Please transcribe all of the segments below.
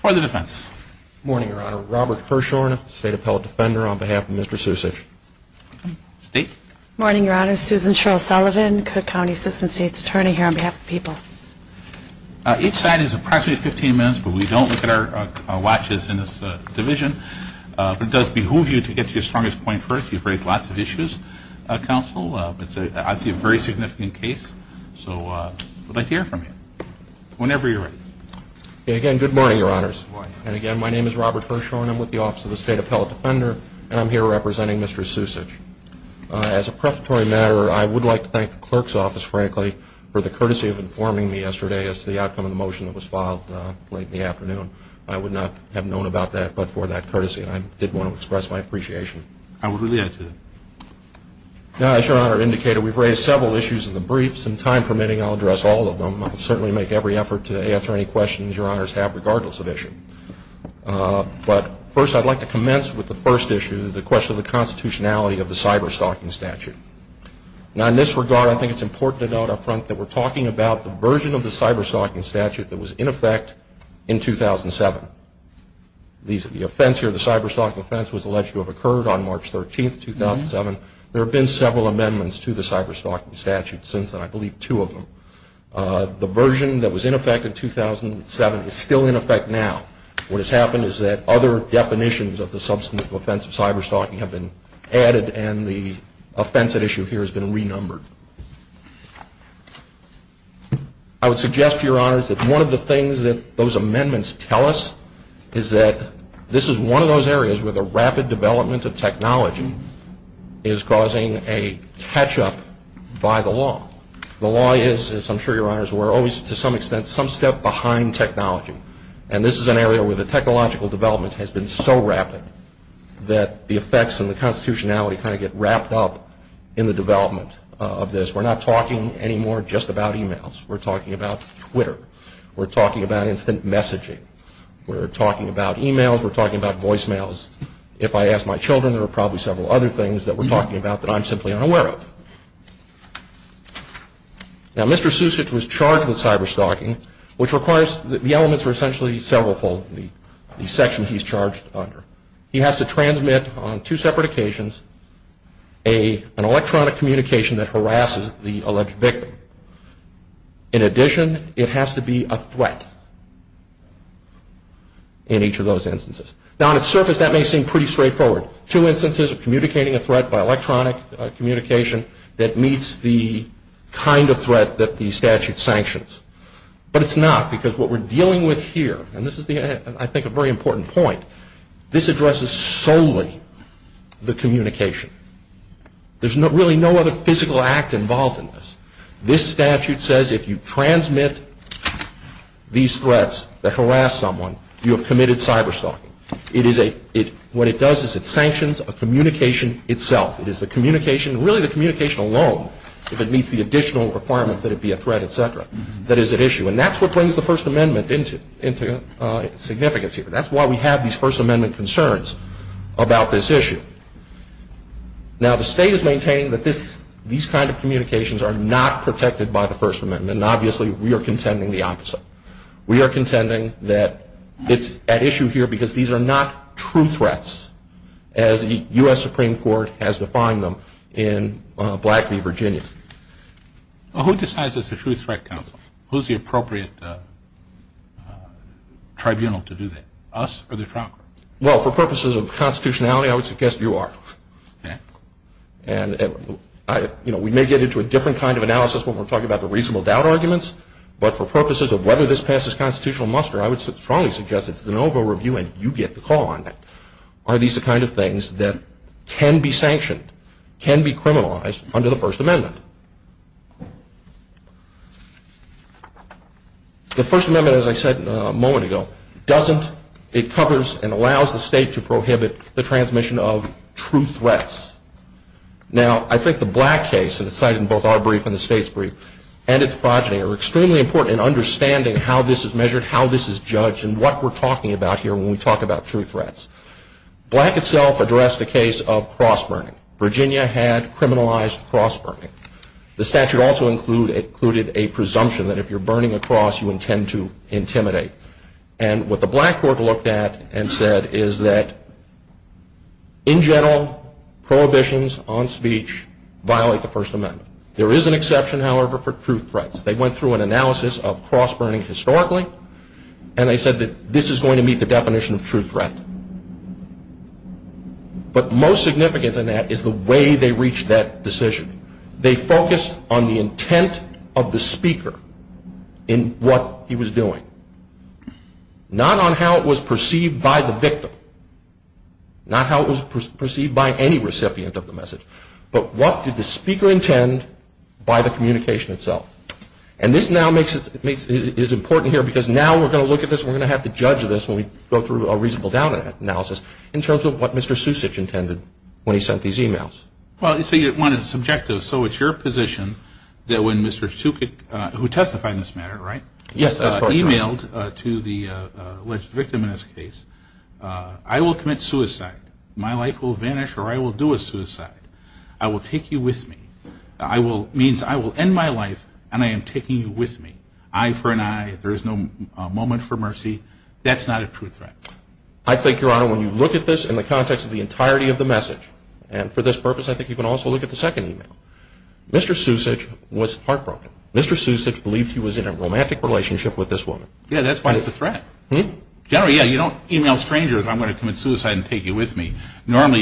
For the defense. Morning, Your Honor. Robert Hirshhorn, State Appellate Defender on behalf of Mr. Sucic. State? Morning, Your Honor. Susan Cheryl Sullivan, Cook County Assistant State's Attorney here on behalf of the people. Each side is approximately 15 minutes, but we don't look at our watches in this division. But it does behoove you to get to your strongest point first. You've raised lots of issues, counsel, but I see a very significant case. So I'd like to hear from you whenever you're ready. Again, good morning, Your Honors. And again, my name is Robert Hirshhorn. I'm with the Office of the State Appellate Defender, and I'm here representing Mr. Sucic. As a prefatory matter, I would like to thank the clerk's office, frankly, for the opportunity to be here today. I have known about that, but for that courtesy, I did want to express my appreciation. I would relate to that. Now, as Your Honor indicated, we've raised several issues in the brief. Some time permitting, I'll address all of them. I'll certainly make every effort to answer any questions Your Honors have, regardless of issue. But first, I'd like to commence with the first issue, the question of the constitutionality of the cyberstalking statute. Now, in this case, the offense here, the cyberstalking offense, was alleged to have occurred on March 13th, 2007. There have been several amendments to the cyberstalking statute since then, I believe two of them. The version that was in effect in 2007 is still in effect now. What has happened is that other definitions of the substantive offense of cyberstalking have been added, and the offense at issue here has been renumbered. I would suggest to Your Honors that one of the things that those amendments tell us is that this is one of those areas where the rapid development of technology is causing a catch-up by the law. The law is, as I'm sure Your Honors were always, to some extent, some step behind technology. And this is an area where the technological development has been so rapid that the effects and the constitutionality kind of get wrapped up in the development of this. We're not talking anymore just about emails. We're talking about Twitter. We're talking about instant messaging. We're talking about emails. We're talking about voicemails. If I ask my children, there are probably several other things that we're talking about that I'm simply unaware of. Now, Mr. Susage was charged with cyberstalking, which requires that the elements are essentially several-fold in the section he's charged under. He has to transmit, on two separate occasions, an electronic communication that harasses the person. It has to be a threat in each of those instances. Now, on its surface, that may seem pretty straightforward. Two instances of communicating a threat by electronic communication that meets the kind of threat that the statute sanctions. But it's not, because what we're dealing with here, and this is, I think, a very important point, this addresses solely the communication. There's really no other physical act involved in this. This statute says if you transmit these threats that harass someone, you have committed cyberstalking. What it does is it sanctions a communication itself. It is the communication, really the communication alone, if it meets the additional requirements that it be a threat, etc., that is at issue. And that's what brings the First Amendment into significance here. That's why we have these First Amendment concerns about this issue. Now, the state is maintaining that these kind of communications are not protected by the First Amendment. And obviously, we are contending the opposite. We are contending that it's at issue here because these are not true threats, as the U.S. Supreme Court has defined them in Black v. Virginia. Well, who decides it's a true threat, counsel? Who's the appropriate tribunal to do that? Us or the Trump? Well, for purposes of constitutionality, I would suggest you are. And, you know, we may get into a different kind of analysis when we're talking about the reasonable doubt arguments. But for purposes of whether this passes constitutional muster, I would strongly suggest it's the NOVA review, and you get the call on that. Are these the kind of things that can be sanctioned, can be criminalized under the First Amendment? The First Amendment, as I said a moment ago, doesn't, it covers and allows the state to prohibit the transmission of true threats. Now, I think the Black case, and it's cited in both our brief and the state's brief, and its progeny are extremely important in understanding how this is Black itself addressed the case of cross-burning. Virginia had criminalized cross-burning. The statute also included a presumption that if you're burning a cross, you intend to intimidate. And what the Black court looked at and said is that, in general, prohibitions on speech violate the First Amendment. There is an exception, however, for true threats. They went through an analysis of cross-burning historically, and they said that this is going to meet the But most significant in that is the way they reached that decision. They focused on the intent of the speaker in what he was doing. Not on how it was perceived by the victim. Not how it was perceived by any recipient of the message. But what did the speaker intend by the communication itself? And this now is important here because now we're going to look at this and we're going to have to judge this when we go through a reasonable doubt analysis in terms of what Mr. Sucich intended when he sent these emails. Well, you see, one, it's subjective. So it's your position that when Mr. Sucich, who testified in this matter, right? Yes, that's correct. Emailed to the alleged victim in this case, I will commit suicide. My life will vanish or I will do a suicide. I will take you with me. Means I will end my life and I am taking you with me. Eye for an eye. There is no moment for mercy. That's not a true threat. I think, Your Honor, when you look at this in the context of the entirety of the message, and for this purpose, I think you can also look at the second email. Mr. Sucich was heartbroken. Mr. Sucich believed he was in a romantic relationship with this woman. Yeah, that's why it's a threat. Generally, yeah, you don't email strangers, I'm going to commit suicide and take you with me. Normally,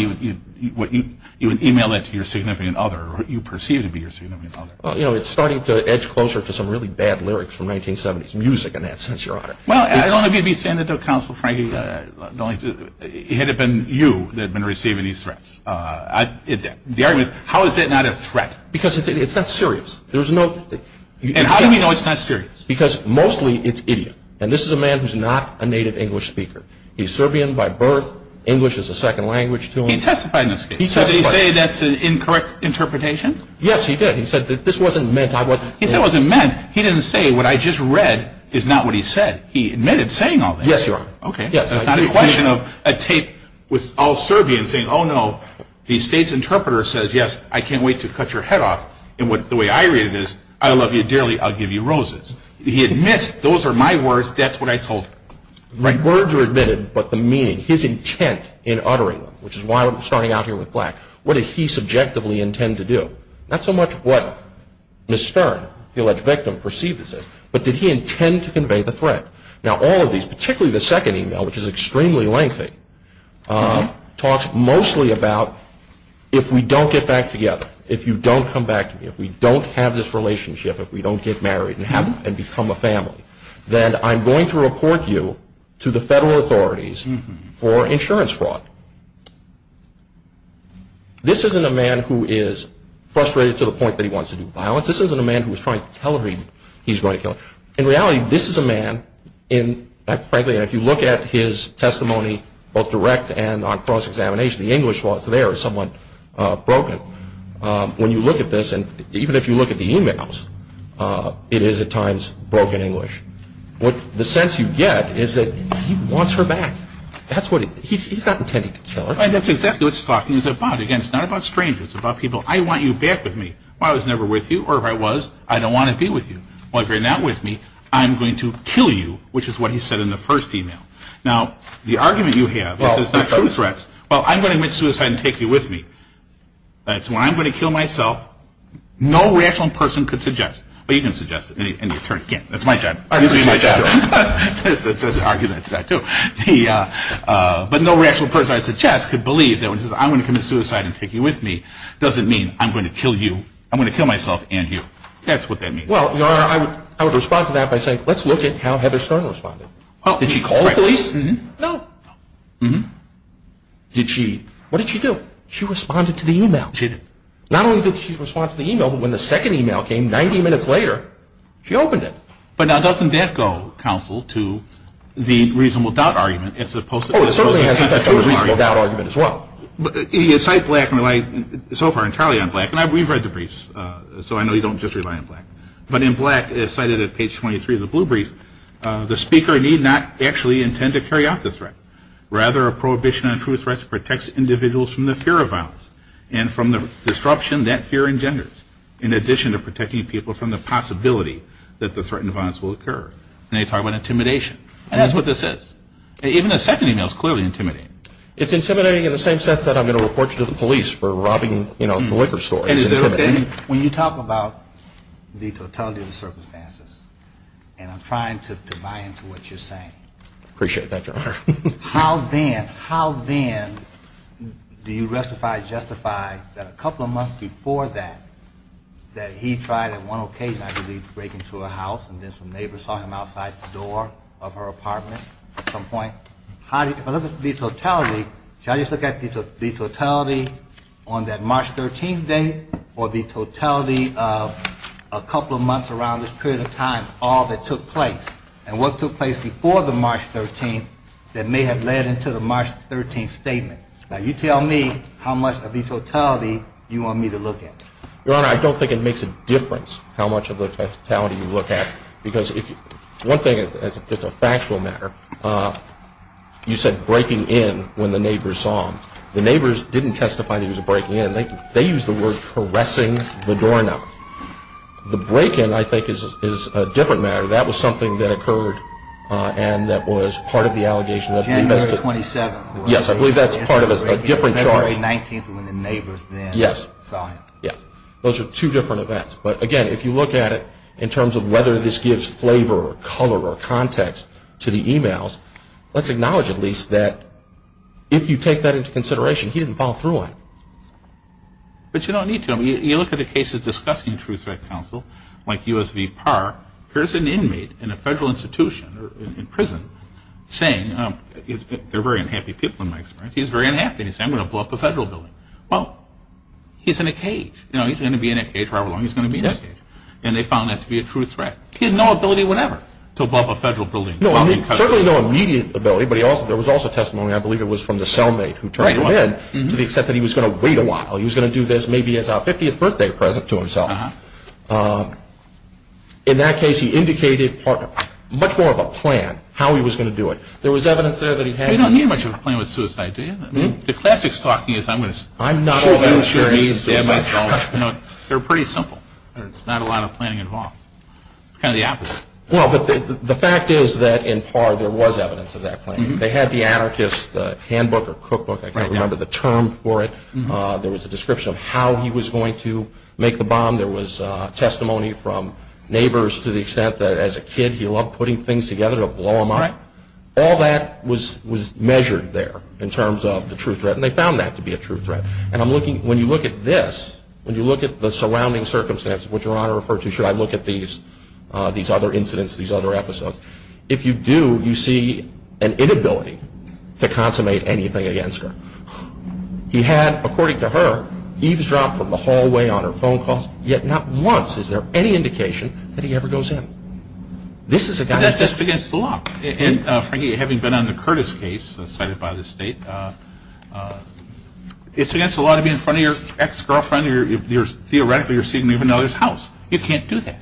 you would email it to your significant other or what you perceive to be your significant other. Well, you know, it's starting to edge closer to some really bad lyrics from 1970s music in that sense, Your Honor. Well, I don't want to be sending it to a counsel, Frankie, had it been you that had been receiving these threats. The argument is, how is that not a threat? Because it's not serious. And how do we know it's not serious? Because mostly it's idiot. And this is a man who's not a native English speaker. He's Serbian by birth. English is a second language to him. He testified in this case. He testified. Did he say that's an incorrect interpretation? Yes, he did. He said that this wasn't meant. He said it wasn't meant. He didn't say what I just read is not what he said. He admitted saying all that. Yes, Your Honor. Okay, that's not a question of a tape with all Serbian saying, oh, no, the state's interpreter says, yes, I can't wait to cut your head off. And the way I read it is, I love you dearly, I'll give you roses. He admits, those are my words, that's what I told him. The words are admitted, but the meaning, his intent in uttering them, which is why we're starting out here with black. What did he subjectively intend to do? Not so much what Ms. Stern, the alleged victim, perceived as this, but did he intend to convey the threat? Now, all of these, particularly the second email, which is extremely lengthy, talks mostly about if we don't get back together, if you don't come back to me, if we don't have this relationship, if we don't get married and become a family, then I'm going to report you to the federal authorities for insurance fraud. This isn't a man who is frustrated to the point that he wants to do violence. This isn't a man who is trying to tell her he's going to kill her. In reality, this is a man, and frankly, if you look at his testimony, both direct and on cross-examination, the English was there somewhat broken. When you look at this, and even if you look at the emails, it is at times broken English. The sense you get is that he wants her back. He's not intending to kill her. That's exactly what he's talking about. Again, it's not about strangers. It's about people. I want you back with me. I was never with you, or if I was, I don't want to be with you. Well, if you're not with me, I'm going to kill you, which is what he said in the first email. Now, the argument you have is that it's not true threats. Well, I'm going to commit suicide and take you with me. That's when I'm going to kill myself. No rational person could suggest. Well, you can suggest it. That's my job. That's the argument. But no rational person I suggest could believe that when he says, I'm going to commit suicide and take you with me, doesn't mean I'm going to kill you. I'm going to kill myself and you. That's what that means. Well, I would respond to that by saying, let's look at how Heather Stern responded. Did she call the police? No. Did she? What did she do? She responded to the email. She did. Not only did she respond to the email, but when the second email came 90 minutes later, she opened it. But now doesn't that go, counsel, to the reasonable doubt argument as opposed to the reasonable doubt argument as well? You cite Black and rely so far entirely on Black. And we've read the briefs, so I know you don't just rely on Black. But in Black, cited at page 23 of the blue brief, the speaker need not actually intend to carry out the threat. Rather, a prohibition on true threats protects individuals from the fear of violence and from the disruption that fear engenders, in addition to protecting people from the possibility that the threat and violence will occur. And they talk about intimidation. And that's what this is. Even the second email is clearly intimidating. It's intimidating in the same sense that I'm going to report you to the police for robbing the liquor store. When you talk about the totality of the circumstances, and I'm trying to buy into what you're saying. I appreciate that, Your Honor. How then, how then do you justify that a couple of months before that, that he tried at one occasion, I believe, to break into a house and then some neighbors saw him outside the door of her apartment at some point? If I look at the totality, should I just look at the totality on that March 13th date or the totality of a couple of months around this period of time, all that took place? And what took place before the March 13th that may have led into the March 13th statement? Now, you tell me how much of the totality you want me to look at. Your Honor, I don't think it makes a difference how much of the totality you look at. One thing, as a factual matter, you said breaking in when the neighbors saw him. The neighbors didn't testify that he was breaking in. They used the word harassing the doorknob. The break in, I think, is a different matter. That was something that occurred and that was part of the allegation. January 27th. Yes, I believe that's part of a different charge. February 19th when the neighbors then saw him. Yes. Those are two different events. But, again, if you look at it in terms of whether this gives flavor or color or context to the emails, let's acknowledge at least that if you take that into consideration, he didn't follow through on it. But you don't need to. I mean, you look at the case of discussing Truth Threat Counsel, like U.S. v. Parr, here's an inmate in a federal institution or in prison saying, they're very unhappy people in my experience, he's very unhappy and he's saying, I'm going to blow up a federal building. Well, he's in a cage. You know, he's going to be in a cage for however long he's going to be in a cage. And they found that to be a truth threat. He had no ability whatever to blow up a federal building. Certainly no immediate ability, but there was also testimony, I believe it was from the cellmate who turned him in, to accept that he was going to wait a while. He was going to do this maybe as a 50th birthday present to himself. In that case, he indicated much more of a plan, how he was going to do it. There was evidence there that he had. You don't need much of a plan with suicide, do you? The classics talking is, I'm going to say, I'm not all that serious about suicide. They're pretty simple. There's not a lot of planning involved. It's kind of the opposite. Well, but the fact is that in Parr there was evidence of that plan. They had the anarchist handbook or cookbook, I can't remember the term for it. There was a description of how he was going to make the bomb. There was testimony from neighbors to the extent that as a kid he loved putting things together to blow them up. All that was measured there in terms of the true threat, and they found that to be a true threat. When you look at this, when you look at the surrounding circumstances, which Your Honor referred to, should I look at these other incidents, these other episodes, if you do, you see an inability to consummate anything against her. He had, according to her, eavesdropped from the hallway on her phone calls, yet not once is there any indication that he ever goes in. This is a guy that's just against the law. And, Frankie, having been on the Curtis case cited by the state, it's against the law to be in front of your ex-girlfriend. Theoretically, you're seeing her leave another's house. You can't do that.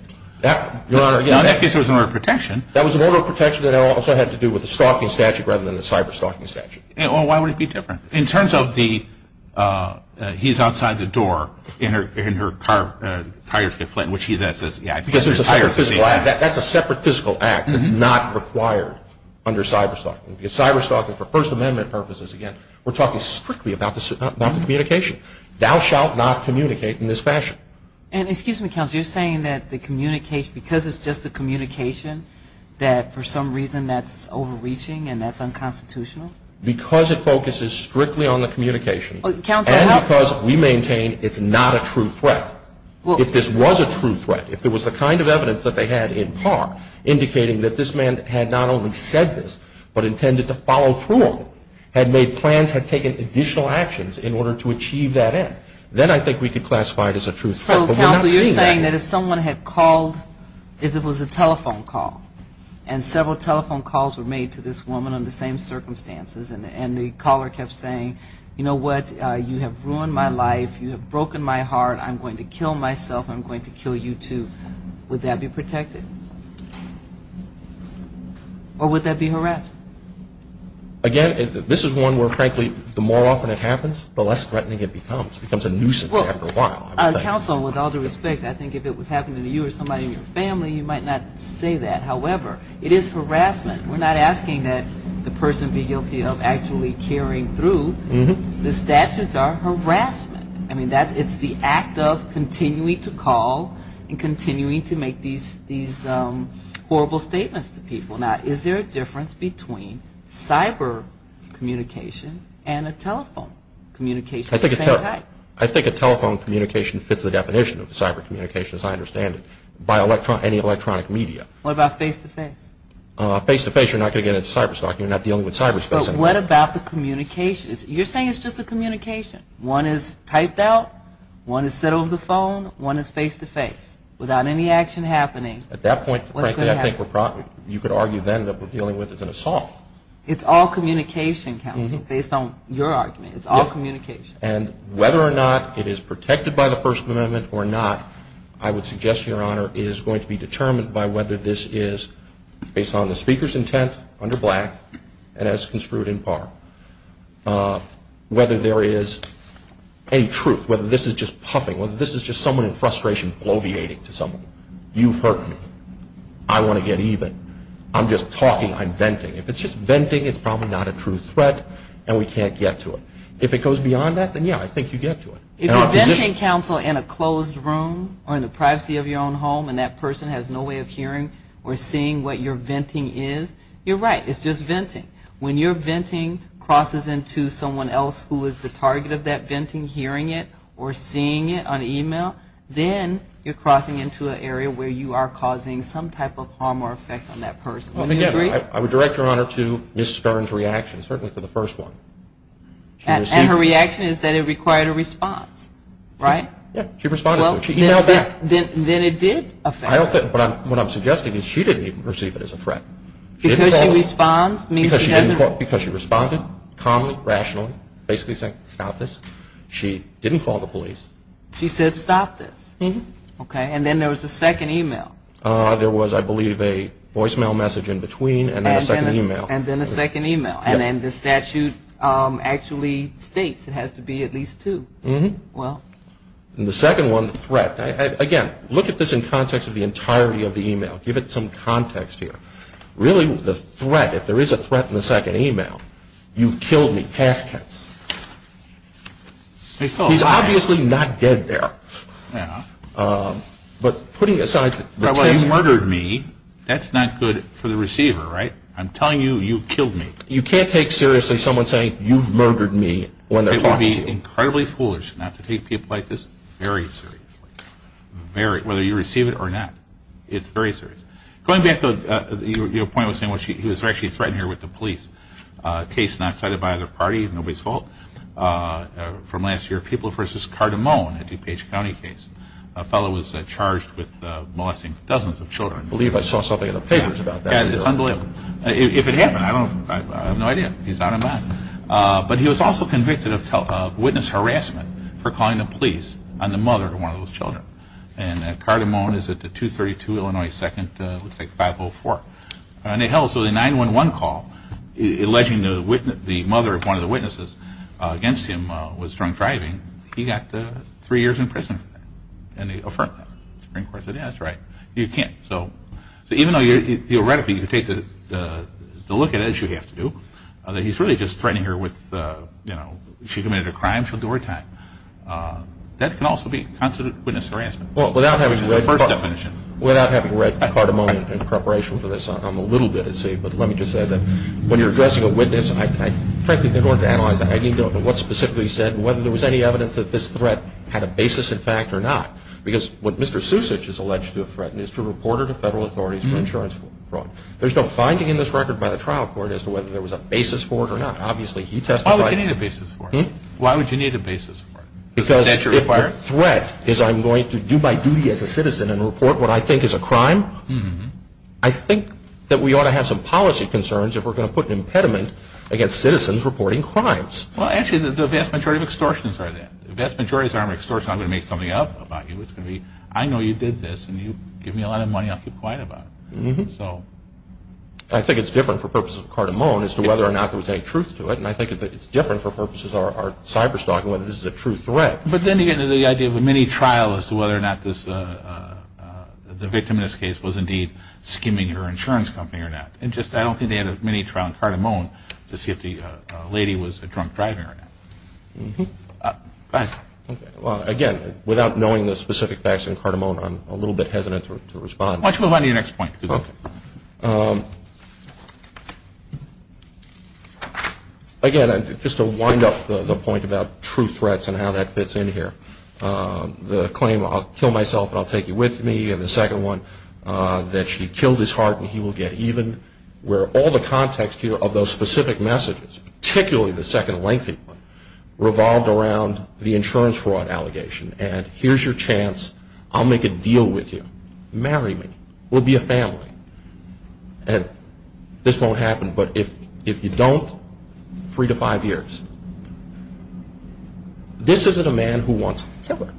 Now, in that case, there was an order of protection. That was an order of protection that also had to do with a stalking statute rather than a cyber-stalking statute. Well, why would it be different? In terms of the he's outside the door and her tires get flat, which he then says, that's a separate physical act that's not required under cyber-stalking. Because cyber-stalking, for First Amendment purposes, again, we're talking strictly about the communication. Thou shalt not communicate in this fashion. And excuse me, Counsel, you're saying that the communication, because it's just a communication that for some reason that's overreaching and that's unconstitutional? Because it focuses strictly on the communication and because we maintain it's not a true threat. If this was a true threat, if it was the kind of evidence that they had in part, indicating that this man had not only said this but intended to follow through on it, had made plans, had taken additional actions in order to achieve that end, then I think we could classify it as a true threat. But we're not seeing that. So, Counsel, you're saying that if someone had called, if it was a telephone call, and several telephone calls were made to this woman under the same circumstances, and the caller kept saying, you know what, you have ruined my life, you have broken my heart, I'm going to kill myself, I'm going to kill you too, would that be protected? Or would that be harassment? Again, this is one where, frankly, the more often it happens, the less threatening it becomes. It becomes a nuisance after a while. Counsel, with all due respect, I think if it was happening to you or somebody in your family, you might not say that. However, it is harassment. We're not asking that the person be guilty of actually carrying through. The statutes are harassment. I mean, it's the act of continuing to call and continuing to make these horrible statements to people. Now, is there a difference between cyber communication and a telephone communication of the same type? I think a telephone communication fits the definition of cyber communication, as I understand it, by any electronic media. What about face-to-face? Face-to-face, you're not going to get into cyber stalking. You're not dealing with cyberspace anymore. But what about the communications? You're saying it's just a communication. One is typed out, one is said over the phone, one is face-to-face. Without any action happening, what's going to happen? At that point, frankly, I think you could argue then that what we're dealing with is an assault. It's all communication, Counsel, based on your argument. It's all communication. And whether or not it is protected by the First Amendment or not, I would suggest, Your Honor, is going to be determined by whether this is, based on the speaker's intent, under black, and as construed in par, whether there is any truth, whether this is just puffing, whether this is just someone in frustration bloviating to someone. You've hurt me. I want to get even. I'm just talking. I'm venting. If it's just venting, it's probably not a true threat, and we can't get to it. If it goes beyond that, then, yeah, I think you get to it. If you're venting, Counsel, in a closed room or in the privacy of your own home and that person has no way of hearing or seeing what you're venting is, you're right. It's just venting. When you're venting crosses into someone else who is the target of that venting hearing it or seeing it on email, then you're crossing into an area where you are causing some type of harm or effect on that person. Would you agree? I would direct, Your Honor, to Ms. Stern's reaction, certainly to the first one. And her reaction is that it required a response, right? Yeah, she responded to it. She emailed back. Then it did affect her. What I'm suggesting is she didn't even perceive it as a threat. Because she responded? Because she responded calmly, rationally, basically saying, stop this. She didn't call the police. She said, stop this. And then there was a second email. There was, I believe, a voicemail message in between and then a second email. And then a second email. And then the statute actually states it has to be at least two. And the second one, the threat. Again, look at this in context of the entirety of the email. Give it some context here. Really, the threat, if there is a threat in the second email, you've killed me, past tense. He's obviously not dead there. But putting aside the tense here. You murdered me. That's not good for the receiver, right? I'm telling you, you killed me. It's incredibly foolish not to take people like this very seriously, whether you receive it or not. It's very serious. Going back to your point, he was actually threatened here with the police. A case not cited by the party, nobody's fault. From last year, People v. Cardamone, a DuPage County case. A fellow was charged with molesting dozens of children. I believe I saw something in the papers about that. It's unbelievable. If it happened, I have no idea. He's out of mind. But he was also convicted of witness harassment for calling the police on the mother of one of those children. And Cardamone is at the 232 Illinois 2nd, looks like 504. And they held a 911 call alleging the mother of one of the witnesses against him was drunk driving. He got three years in prison for that. And the Supreme Court said, yeah, that's right. You can't. So even though theoretically you take the look at it, as you have to do, that he's really just threatening her with, you know, she committed a crime, she'll do her time. That can also be considered witness harassment. Well, without having read Cardamone in preparation for this, I'm a little bit at sea. But let me just say that when you're addressing a witness, frankly, in order to analyze it, I need to know what specifically he said and whether there was any evidence that this threat had a basis in fact or not. Because what Mr. Susich has alleged to have threatened is to report her to federal authorities for insurance fraud. There's no finding in this record by the trial court as to whether there was a basis for it or not. Obviously, he testified. Why would you need a basis for it? Why would you need a basis for it? Because if the threat is I'm going to do my duty as a citizen and report what I think is a crime, I think that we ought to have some policy concerns if we're going to put an impediment against citizens reporting crimes. Well, actually, the vast majority of extortions are that. The vast majority of extortions are I'm going to make something up about you. It's going to be I know you did this, and you give me a lot of money. I'll keep quiet about it. I think it's different for purposes of Cardamone as to whether or not there was any truth to it, and I think that it's different for purposes of our cyberstalk and whether this is a true threat. But then you get into the idea of a mini-trial as to whether or not the victim in this case was indeed skimming your insurance company or not. I don't think they had a mini-trial in Cardamone to see if the lady was a drunk driver or not. Go ahead. Again, without knowing the specific facts in Cardamone, I'm a little bit hesitant to respond. Why don't you move on to your next point. Okay. Again, just to wind up the point about true threats and how that fits in here, the claim I'll kill myself and I'll take you with me, and the second one that she killed his heart and he will get even, where all the context here of those specific messages, particularly the second lengthy one, revolved around the insurance fraud allegation. And here's your chance. I'll make a deal with you. Marry me. We'll be a family. This won't happen, but if you don't, three to five years. This isn't a man who wants to kill her.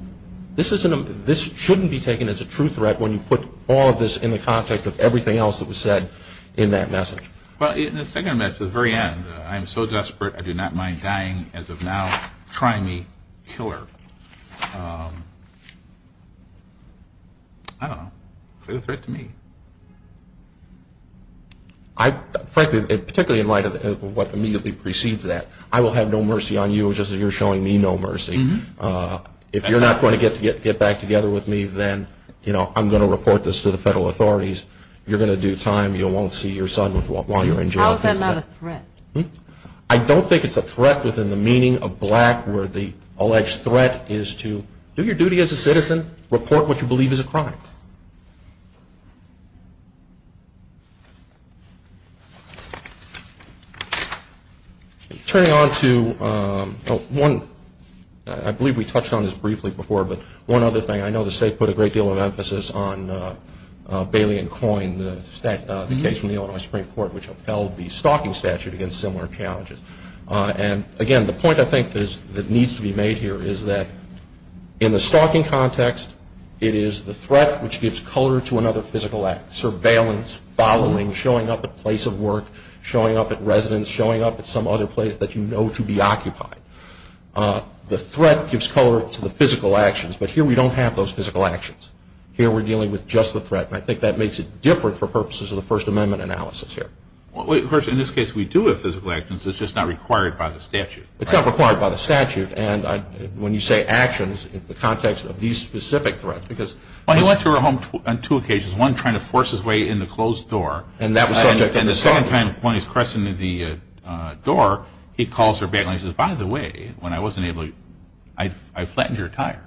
This shouldn't be taken as a true threat when you put all of this in the context of everything else that was said in that message. Well, in the second message at the very end, I am so desperate I do not mind dying as of now. Try me. Kill her. I don't know. Say the threat to me. Frankly, particularly in light of what immediately precedes that, I will have no mercy on you just as you're showing me no mercy. If you're not going to get back together with me, then I'm going to report this to the federal authorities. You're going to do time. You won't see your son while you're in jail. How is that not a threat? I don't think it's a threat within the meaning of black where the alleged threat is to do your duty as a citizen, report what you believe is a crime. Turning on to one, I believe we touched on this briefly before, but one other thing. I know the state put a great deal of emphasis on Bailey and Coyne, the case from the Illinois Supreme Court, which upheld the stalking statute against similar challenges. And, again, the point I think that needs to be made here is that in the stalking context, it is the threat to the citizenship, which gives color to another physical act, surveillance, following, showing up at the place of work, showing up at residence, showing up at some other place that you know to be occupied. The threat gives color to the physical actions, but here we don't have those physical actions. Here we're dealing with just the threat, and I think that makes it different for purposes of the First Amendment analysis here. Of course, in this case, we do have physical actions. It's just not required by the statute. It's not required by the statute. And when you say actions in the context of these specific threats because Well, he went to her home on two occasions. One, trying to force his way in the closed door. And that was subject of the stalking. And the second time, when he's cresting the door, he calls her back and says, by the way, when I wasn't able to, I flattened your tires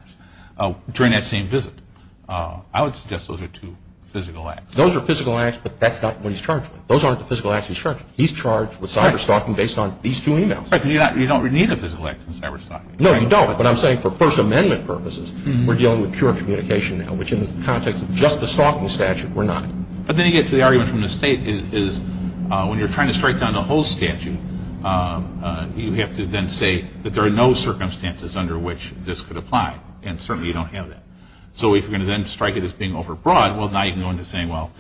during that same visit. I would suggest those are two physical acts. Those are physical acts, but that's not what he's charged with. Those aren't the physical acts he's charged with. He's charged with cyber-stalking based on these two emails. Right, because you don't need a physical act in cyber-stalking. No, you don't, but I'm saying for First Amendment purposes, we're dealing with pure communication now, which in the context of just the stalking statute, we're not. But then you get to the argument from the state is, when you're trying to strike down the whole statute, you have to then say that there are no circumstances under which this could apply. And certainly you don't have that. So if you're going to then strike it as being overbroad, well, now you can go into saying, well,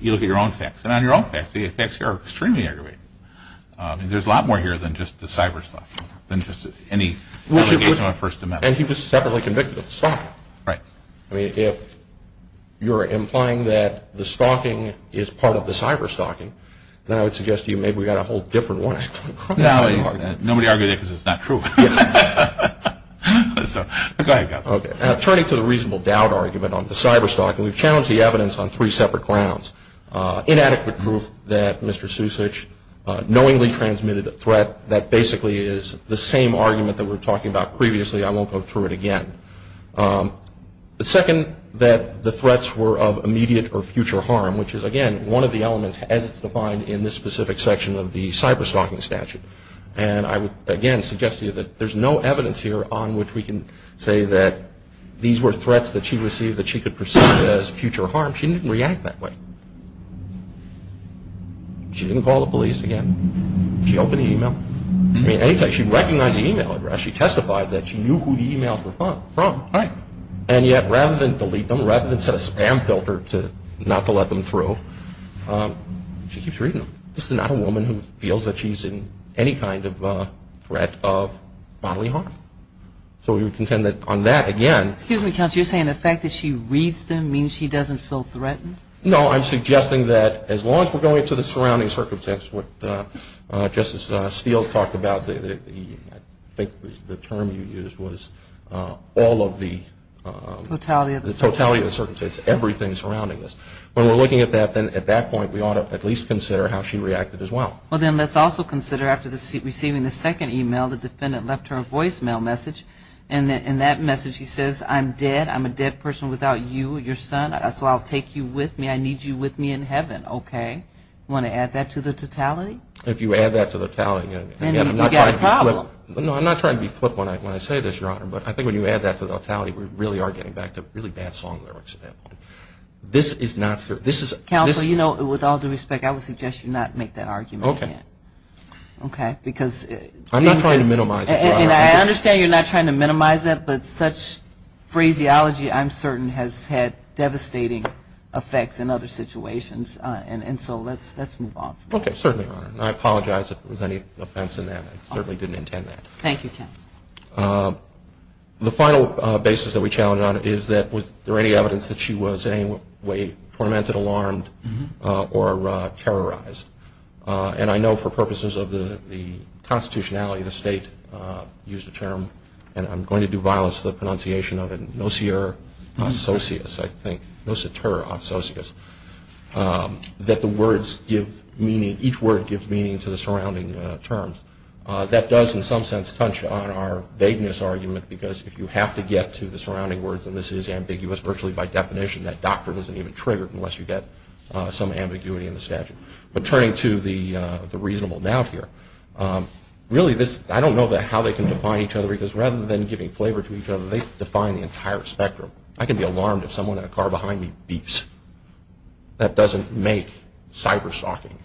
you look at your own facts. And on your own facts, the effects here are extremely aggravating. There's a lot more here than just the cyber-stalking, than just any allegation on First Amendment. And he was separately convicted of the stalking. Right. I mean, if you're implying that the stalking is part of the cyber-stalking, then I would suggest to you maybe we've got a whole different one. No, nobody argued it because it's not true. Go ahead, Gus. Okay. Turning to the reasonable doubt argument on the cyber-stalking, we've challenged the evidence on three separate grounds. Inadequate proof that Mr. Susich knowingly transmitted a threat. That basically is the same argument that we were talking about previously. I won't go through it again. The second, that the threats were of immediate or future harm, which is, again, one of the elements as it's defined in this specific section of the cyber-stalking statute. And I would, again, suggest to you that there's no evidence here on which we can say that these were threats that she received that she could perceive as future harm. She didn't react that way. She opened the e-mail. She recognized the e-mail address. She testified that she knew who the e-mails were from. Right. And yet rather than delete them, rather than set a spam filter not to let them through, she keeps reading them. This is not a woman who feels that she's in any kind of threat of bodily harm. So we would contend that on that, again. Excuse me, counsel. You're saying the fact that she reads them means she doesn't feel threatened? No, I'm suggesting that as long as we're going to the surrounding circumstances, what Justice Steele talked about, I think the term you used was all of the. Totality of the circumstances. Totality of the circumstances, everything surrounding this. When we're looking at that, then at that point we ought to at least consider how she reacted as well. Well, then let's also consider after receiving the second e-mail, the defendant left her a voicemail message. And in that message he says, I'm dead. I'm a dead person without you, your son. So I'll take you with me. I need you with me in heaven. Okay? Want to add that to the totality? If you add that to the totality. Then you've got a problem. No, I'm not trying to be flippant when I say this, Your Honor. But I think when you add that to the totality, we really are getting back to really bad song lyrics at that point. This is not fair. Counsel, you know, with all due respect, I would suggest you not make that argument again. Okay. Okay, because. I'm not trying to minimize it, Your Honor. And I understand you're not trying to minimize it, but such phraseology, I'm certain, has had devastating effects in other situations. And so let's move on from that. Okay, certainly, Your Honor. And I apologize if there was any offense in that. I certainly didn't intend that. Thank you, Ken. The final basis that we challenge on it is that was there any evidence that she was in any way tormented, alarmed, or terrorized? And I know for purposes of the constitutionality, the State used a term, and I'm going to do violence to the pronunciation of it, nocier associas, I think. Nociter associas. That the words give meaning, each word gives meaning to the surrounding terms. That does, in some sense, touch on our vagueness argument, because if you have to get to the surrounding words, and this is ambiguous virtually by definition, that doctrine isn't even triggered unless you get some ambiguity in the statute. But turning to the reasonable doubt here, really this, I don't know how they can define each other, because rather than giving flavor to each other, they define the entire spectrum. I can be alarmed if someone in a car behind me beeps. That doesn't make cyber-stalking.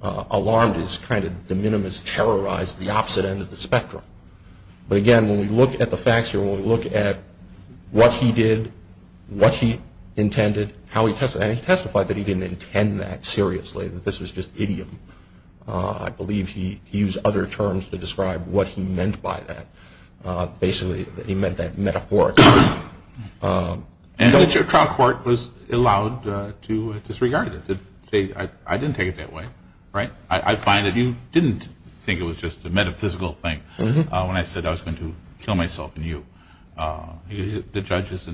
Alarmed is kind of de minimis terrorized, the opposite end of the spectrum. But again, when we look at the facts here, when we look at what he did, what he intended, and he testified that he didn't intend that seriously, that this was just idiom. I believe he used other terms to describe what he meant by that. Basically, he meant that metaphorically. And the trial court was allowed to disregard it, to say, I didn't take it that way. I find that you didn't think it was just a metaphysical thing when I said I was going to kill myself and you. The judge is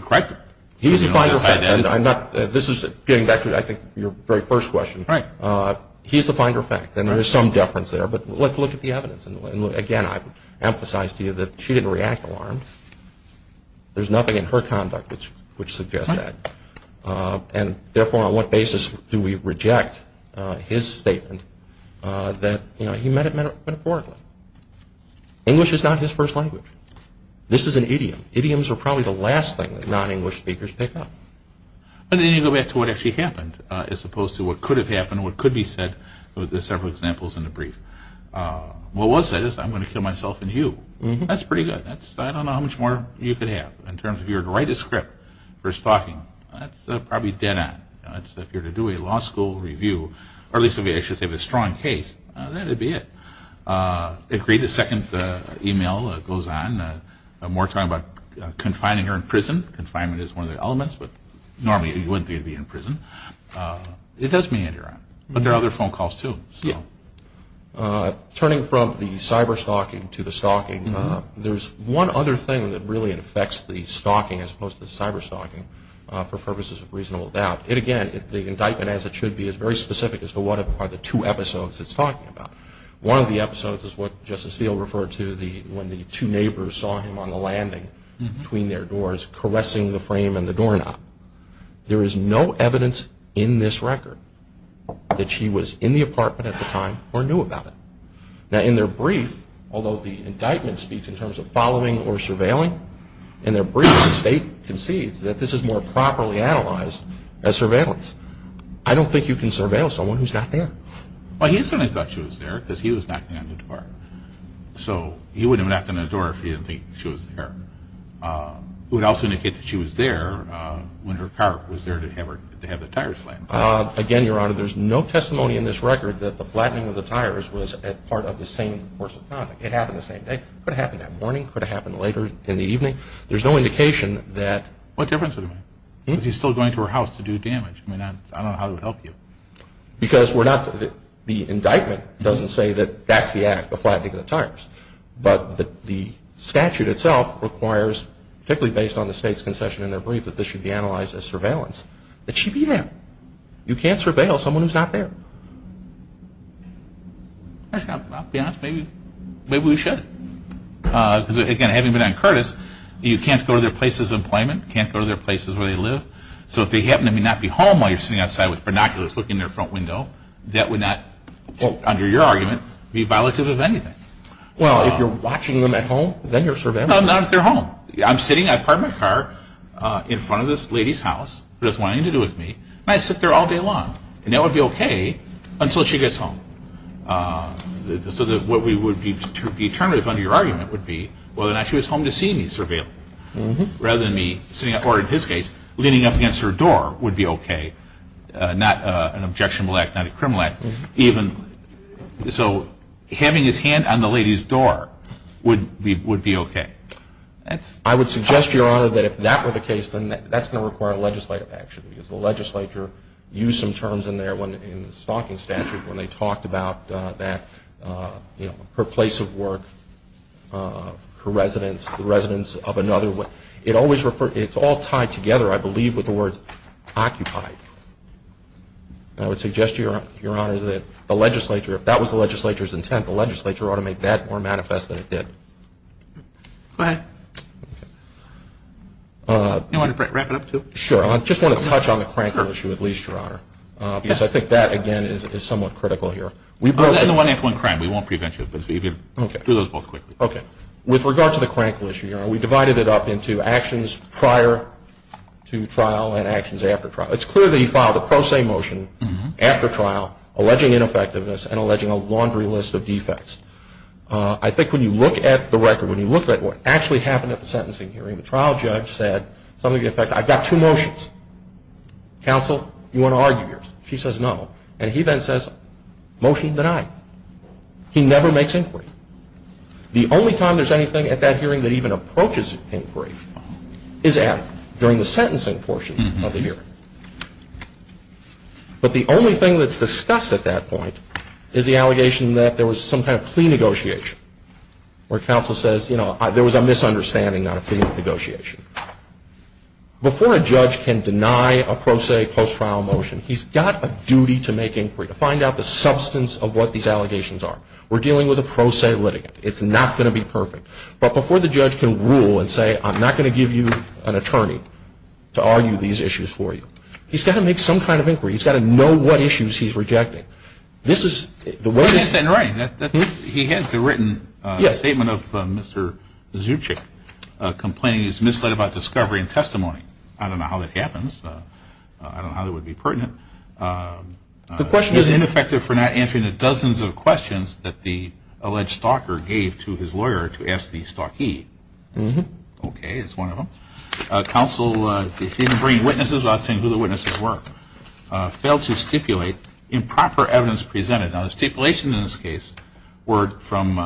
correct. He's the finder of fact. This is getting back to, I think, your very first question. He's the finder of fact, and there is some deference there. But let's look at the evidence. Again, I emphasize to you that she didn't react alarmed. There's nothing in her conduct which suggests that. And therefore, on what basis do we reject his statement that he meant it metaphorically? English is not his first language. This is an idiom. Idioms are probably the last thing that non-English speakers pick up. But then you go back to what actually happened, as opposed to what could have happened, what could be said with the several examples in the brief. What was said is, I'm going to kill myself and you. That's pretty good. I don't know how much more you could have in terms of if you were to write a script for his talking. That's probably dead on. If you were to do a law school review, or at least I should say a strong case, that would be it. The second email that goes on, we're talking about confining her in prison. Confinement is one of the elements, but normally you wouldn't think it would be in prison. It does mean that you're out. But there are other phone calls, too. Turning from the cyber-stalking to the stalking, there's one other thing that really affects the stalking, as opposed to the cyber-stalking, for purposes of reasonable doubt. Again, the indictment, as it should be, is very specific as to what are the two episodes it's talking about. One of the episodes is what Justice Steele referred to, when the two neighbors saw him on the landing between their doors caressing the frame and the doorknob. There is no evidence in this record that she was in the apartment at the time or knew about it. Now, in their brief, although the indictment speaks in terms of following or surveilling, in their brief the state concedes that this is more properly analyzed as surveillance. I don't think you can surveil someone who's not there. Well, he certainly thought she was there because he was knocking on the door. So he wouldn't have knocked on the door if he didn't think she was there. It would also indicate that she was there when her car was there to have the tires slammed. Again, Your Honor, there's no testimony in this record that the flattening of the tires was part of the same course of conduct. It happened the same day. It could have happened that morning. It could have happened later in the evening. There's no indication that... What difference would it make? Because he's still going to her house to do damage. I mean, I don't know how it would help you. Because the indictment doesn't say that that's the act, the flattening of the tires. But the statute itself requires, particularly based on the state's concession in their brief, that this should be analyzed as surveillance, that she be there. You can't surveil someone who's not there. Actually, to be honest, maybe we should. Because, again, having been on Curtis, you can't go to their places of employment, can't go to their places where they live. So if they happen to not be home while you're sitting outside with binoculars looking in their front window, that would not, under your argument, be violative of anything. Well, if you're watching them at home, then you're surveilling them. Not if they're home. I'm sitting, I park my car in front of this lady's house who doesn't want anything to do with me, and I sit there all day long. And that would be okay until she gets home. So what would be determinative under your argument would be whether or not she was home to see me surveilling. Rather than me sitting up, or in his case, leaning up against her door would be okay. Not an objectionable act, not a criminal act. So having his hand on the lady's door would be okay. I would suggest, Your Honor, that if that were the case, then that's going to require legislative action. Because the legislature used some terms in there in the stalking statute when they talked about her place of work, her residence, the residence of another. It's all tied together, I believe, with the words occupied. I would suggest, Your Honor, that the legislature, if that was the legislature's intent, the legislature ought to make that more manifest than it did. Go ahead. Do you want to wrap it up, too? Sure. I just want to touch on the crankle issue at least, Your Honor. Yes. Because I think that, again, is somewhat critical here. And the one-act-one crime. We won't prevent you, but do those both quickly. Okay. With regard to the crankle issue, Your Honor, we divided it up into actions prior to trial and actions after trial. It's clear that he filed a pro se motion after trial alleging ineffectiveness and alleging a laundry list of defects. I think when you look at the record, when you look at what actually happened at the sentencing hearing, the trial judge said something to the effect, I've got two motions. Counsel, you want to argue yours? She says no. And he then says, motion denied. He never makes inquiry. The only time there's anything at that hearing that even approaches inquiry is during the sentencing portion of the hearing. But the only thing that's discussed at that point is the allegation that there was some kind of plea negotiation, where counsel says, you know, there was a misunderstanding on a plea negotiation. Before a judge can deny a pro se post-trial motion, he's got a duty to make inquiry, to find out the substance of what these allegations are. We're dealing with a pro se litigant. It's not going to be perfect. But before the judge can rule and say, I'm not going to give you an attorney to argue these issues for you, he's got to make some kind of inquiry. He's got to know what issues he's rejecting. This is the way that he has to written a statement of Mr. Zubchik complaining he's misled about discovery and testimony. I don't know how that happens. I don't know how that would be pertinent. The question is ineffective for not answering the dozens of questions that the alleged stalker gave to his lawyer to ask the stalkee. Okay. It's one of them. Counsel didn't bring witnesses without saying who the witnesses were. Failed to stipulate improper evidence presented. Now, the stipulation in this case were from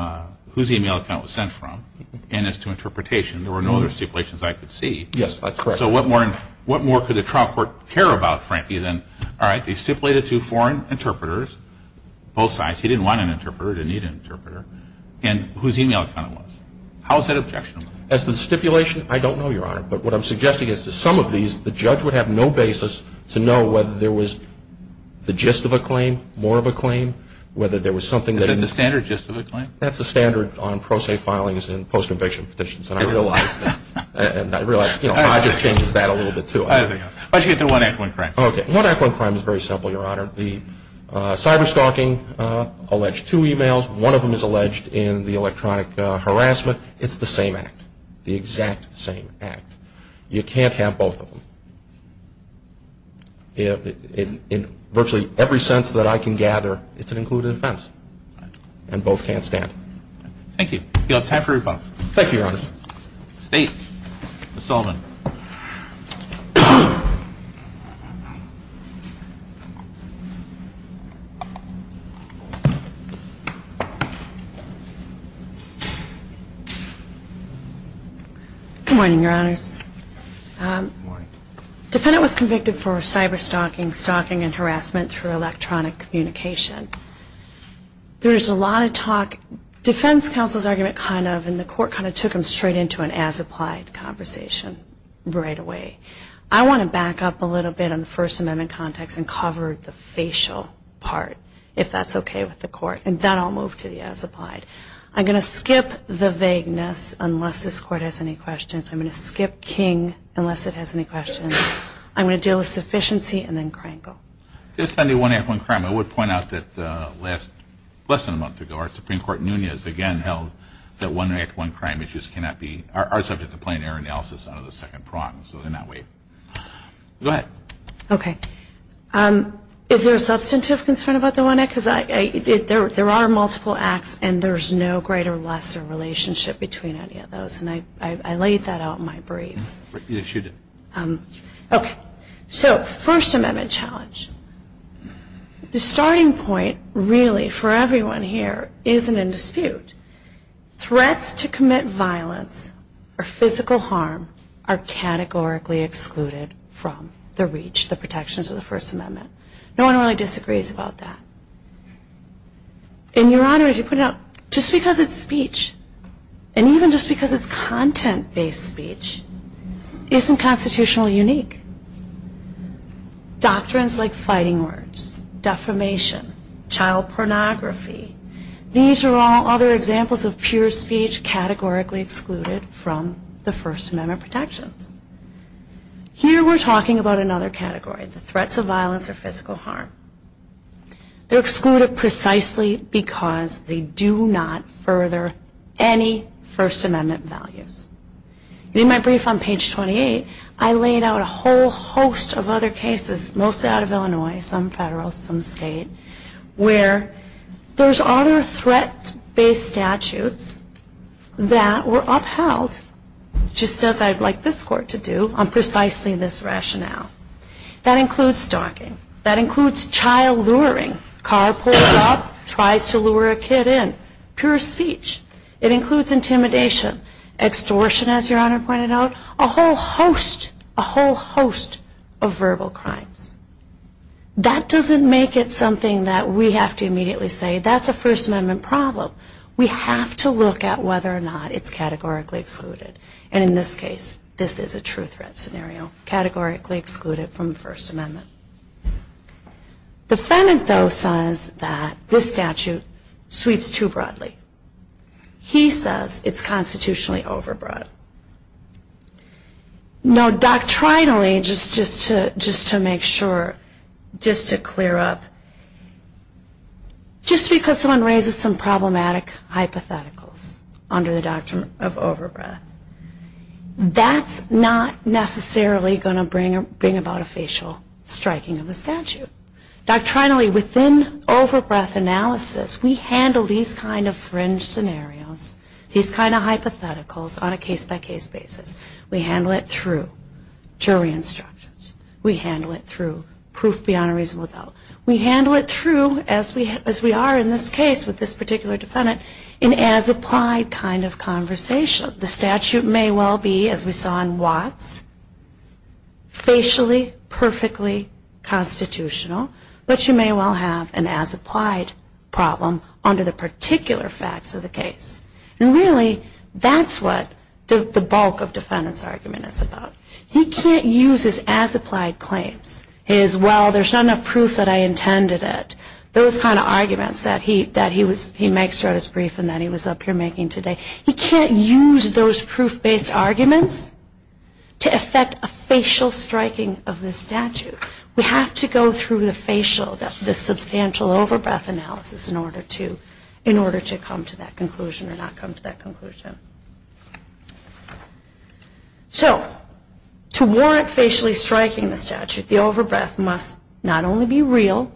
whose e-mail account it was sent from. And as to interpretation, there were no other stipulations I could see. Yes, that's correct. So what more could the trial court care about, Frankie, than, all right, they stipulated two foreign interpreters, both sides. He didn't want an interpreter. He didn't need an interpreter. And whose e-mail account it was. How is that objectionable? As to the stipulation, I don't know, Your Honor. But what I'm suggesting is to some of these, the judge would have no basis to know whether there was the gist of a claim, more of a claim, whether there was something that he needed. Is that the standard gist of a claim? That's the standard on pro se filings and post-conviction petitions. And I realize that. And I realize, you know, I just changed that a little bit, too. Why don't you get to one act, one crime. Okay. One act, one crime is very simple, Your Honor. The cyberstalking alleged two e-mails. One of them is alleged in the electronic harassment. It's the same act, the exact same act. You can't have both of them. In virtually every sense that I can gather, it's an included offense. And both can't stand. Thank you. You'll have time for rebuttal. Thank you, Your Honor. State, Ms. Sullivan. Good morning, Your Honors. Good morning. Defendant was convicted for cyberstalking, stalking and harassment through electronic communication. There's a lot of talk, defense counsel's argument kind of, and the court kind of took him straight into an as-applied conversation right away. I want to back up a little bit on the First Amendment context and cover the facial part, if that's okay with the court. And then I'll move to the as-applied. I'm going to skip the vagueness unless this Court has any questions. I'm going to skip King unless it has any questions. I'm going to deal with sufficiency and then Krankel. This time the one act, one crime. I would point out that less than a month ago our Supreme Court Nunez again held that one act, one crime issues are subject to plain error analysis under the second prong. So they're not waived. Go ahead. Okay. Is there a substantive concern about the one act? Because there are multiple acts and there's no greater or lesser relationship between any of those. And I laid that out in my brief. You should. Okay. So First Amendment challenge. The starting point really for everyone here isn't in dispute. Threats to commit violence or physical harm are categorically excluded from the reach, the protections of the First Amendment. No one really disagrees about that. And, Your Honor, as you put it out, just because it's speech and even just because it's content-based speech isn't constitutionally unique. Doctrines like fighting words, defamation, child pornography, these are all other examples of pure speech categorically excluded from the First Amendment protections. Here we're talking about another category, the threats of violence or physical harm. They're excluded precisely because they do not further any First Amendment values. In my brief on page 28, I laid out a whole host of other cases, mostly out of Illinois, some federal, some state, where there's other threat-based statutes that were upheld, just as I'd like this Court to do, on precisely this rationale. That includes stalking. That includes child luring. Car pulls up, tries to lure a kid in. Pure speech. It includes intimidation. Extortion, as Your Honor pointed out. A whole host, a whole host of verbal crimes. That doesn't make it something that we have to immediately say, that's a First Amendment problem. We have to look at whether or not it's categorically excluded. And in this case, this is a true threat scenario, categorically excluded from the First Amendment. The defendant, though, says that this statute sweeps too broadly. He says it's constitutionally overbroad. No, doctrinally, just to make sure, just to clear up, just because someone raises some problematic hypotheticals under the doctrine of overbreath, that's not necessarily going to bring about a facial striking of a statute. Doctrinally, within overbreath analysis, we handle these kind of fringe scenarios, these kind of hypotheticals on a case-by-case basis. We handle it through jury instructions. We handle it through proof beyond a reasonable doubt. We handle it through, as we are in this case with this particular defendant, an as-applied kind of conversation. The statute may well be, as we saw in Watts, facially perfectly constitutional, but you may well have an as-applied problem under the particular facts of the case. And really, that's what the bulk of defendant's argument is about. He can't use his as-applied claims. His, well, there's not enough proof that I intended it. Those kind of arguments that he makes throughout his brief and that he was up here making today. He can't use those proof-based arguments to affect a facial striking of this statute. We have to go through the facial, the substantial overbreath analysis in order to come to that conclusion or not come to that conclusion. So, to warrant facially striking the statute, the overbreath must not only be real,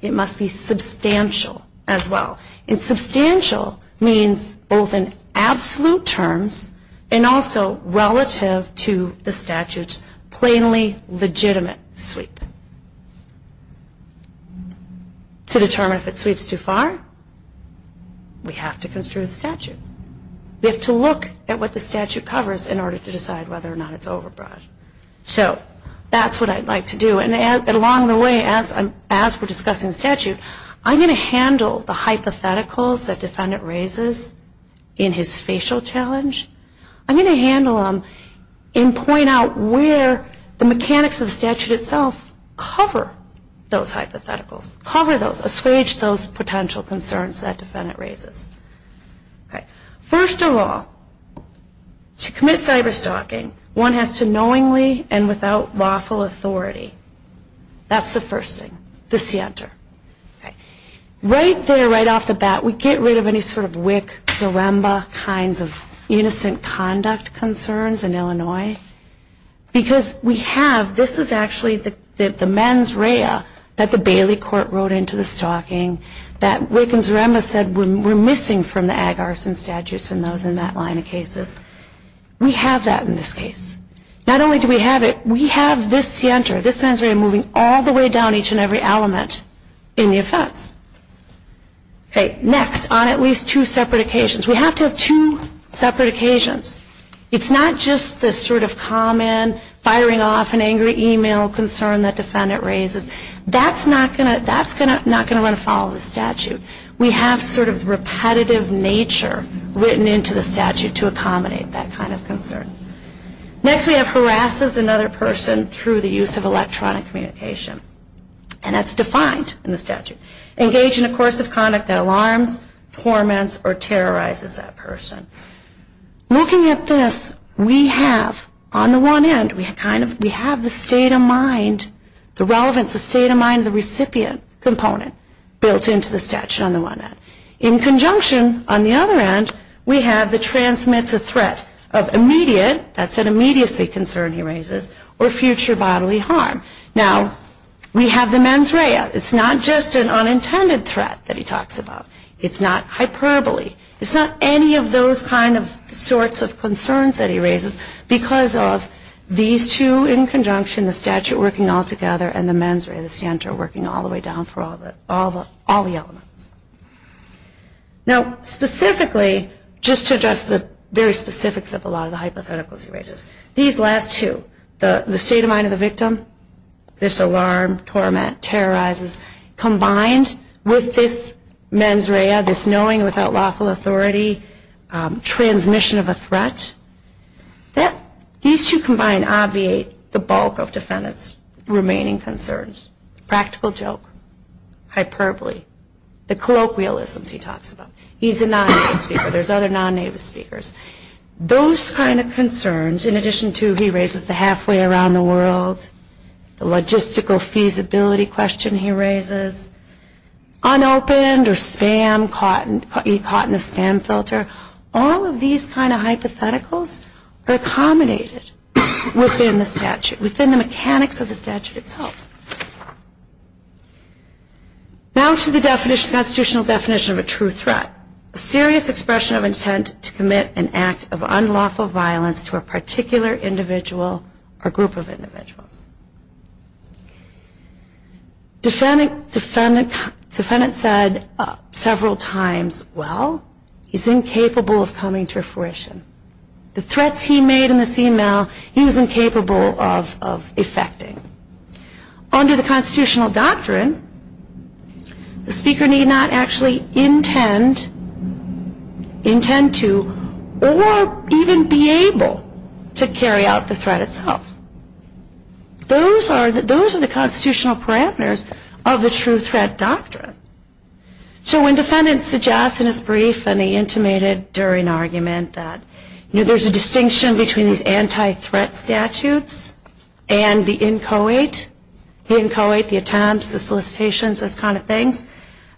it must be substantial as well. And substantial means both in absolute terms and also relative to the statute's plainly legitimate sweep. To determine if it sweeps too far, we have to construe the statute. We have to look at what the statute covers in order to decide whether or not it's overbreath. So, that's what I'd like to do. And along the way, as we're discussing the statute, I'm going to handle the hypotheticals that defendant raises in his facial challenge. I'm going to handle them and point out where the mechanics of the statute itself cover those hypotheticals, cover those, assuage those potential concerns that defendant raises. First of all, to commit cyber-stalking, one has to knowingly and without lawful authority. That's the first thing, the scienter. Right there, right off the bat, we get rid of any sort of WIC, Zaremba, kinds of innocent conduct concerns in Illinois because we have, this is actually the mens rea that the Bailey court wrote into the stalking that WIC and Zaremba said were missing from the Ag Arson statutes and those in that line of cases. We have that in this case. Not only do we have it, we have this scienter, this mens rea moving all the way down each and every element in the offense. Next, on at least two separate occasions, we have to have two separate occasions. It's not just this sort of common firing off an angry email concern that defendant raises. That's not going to run afoul of the statute. We have sort of repetitive nature written into the statute to accommodate that kind of concern. Next, we have harasses another person through the use of electronic communication. And that's defined in the statute. Engage in a course of conduct that alarms, torments, or terrorizes that person. Looking at this, we have, on the one end, we have the state of mind, the relevance, the state of mind of the recipient component built into the statute on the one end. In conjunction, on the other end, we have the transmits a threat of immediate, that's an immediacy concern he raises, or future bodily harm. Now, we have the mens rea. It's not just an unintended threat that he talks about. It's not hyperbole. It's not any of those kind of sorts of concerns that he raises because of these two in conjunction, the statute working all together, and the mens rea, the scienter, working all the way down for all the elements. Now, specifically, just to address the very specifics of a lot of the hypotheticals he raises, these last two, the state of mind of the victim, this alarm, torment, terrorizes, combined with this mens rea, this knowing without lawful authority, transmission of a threat, these two combined obviate the bulk of defendant's remaining concerns. Practical joke, hyperbole, the colloquialisms he talks about. He's a non-native speaker. There's other non-native speakers. Those kind of concerns, in addition to, he raises the halfway around the world, the logistical feasibility question he raises, unopened or spam caught in the spam filter, all of these kind of hypotheticals are accommodated within the statute, within the mechanics of the statute itself. Now to the constitutional definition of a true threat, a serious expression of intent to commit an act of unlawful violence to a particular individual or group of individuals. Defendant said several times, well, he's incapable of coming to fruition. The threats he made in this email, he was incapable of effecting. Under the constitutional doctrine, the speaker need not actually intend, intend to, or even be able to carry out the threat itself. Those are the constitutional parameters of the true threat doctrine. So when defendant suggests in his brief and the intimated during argument that there's a distinction between these anti-threat statutes and the inchoate, the inchoate, the attempts, the solicitations, those kind of things,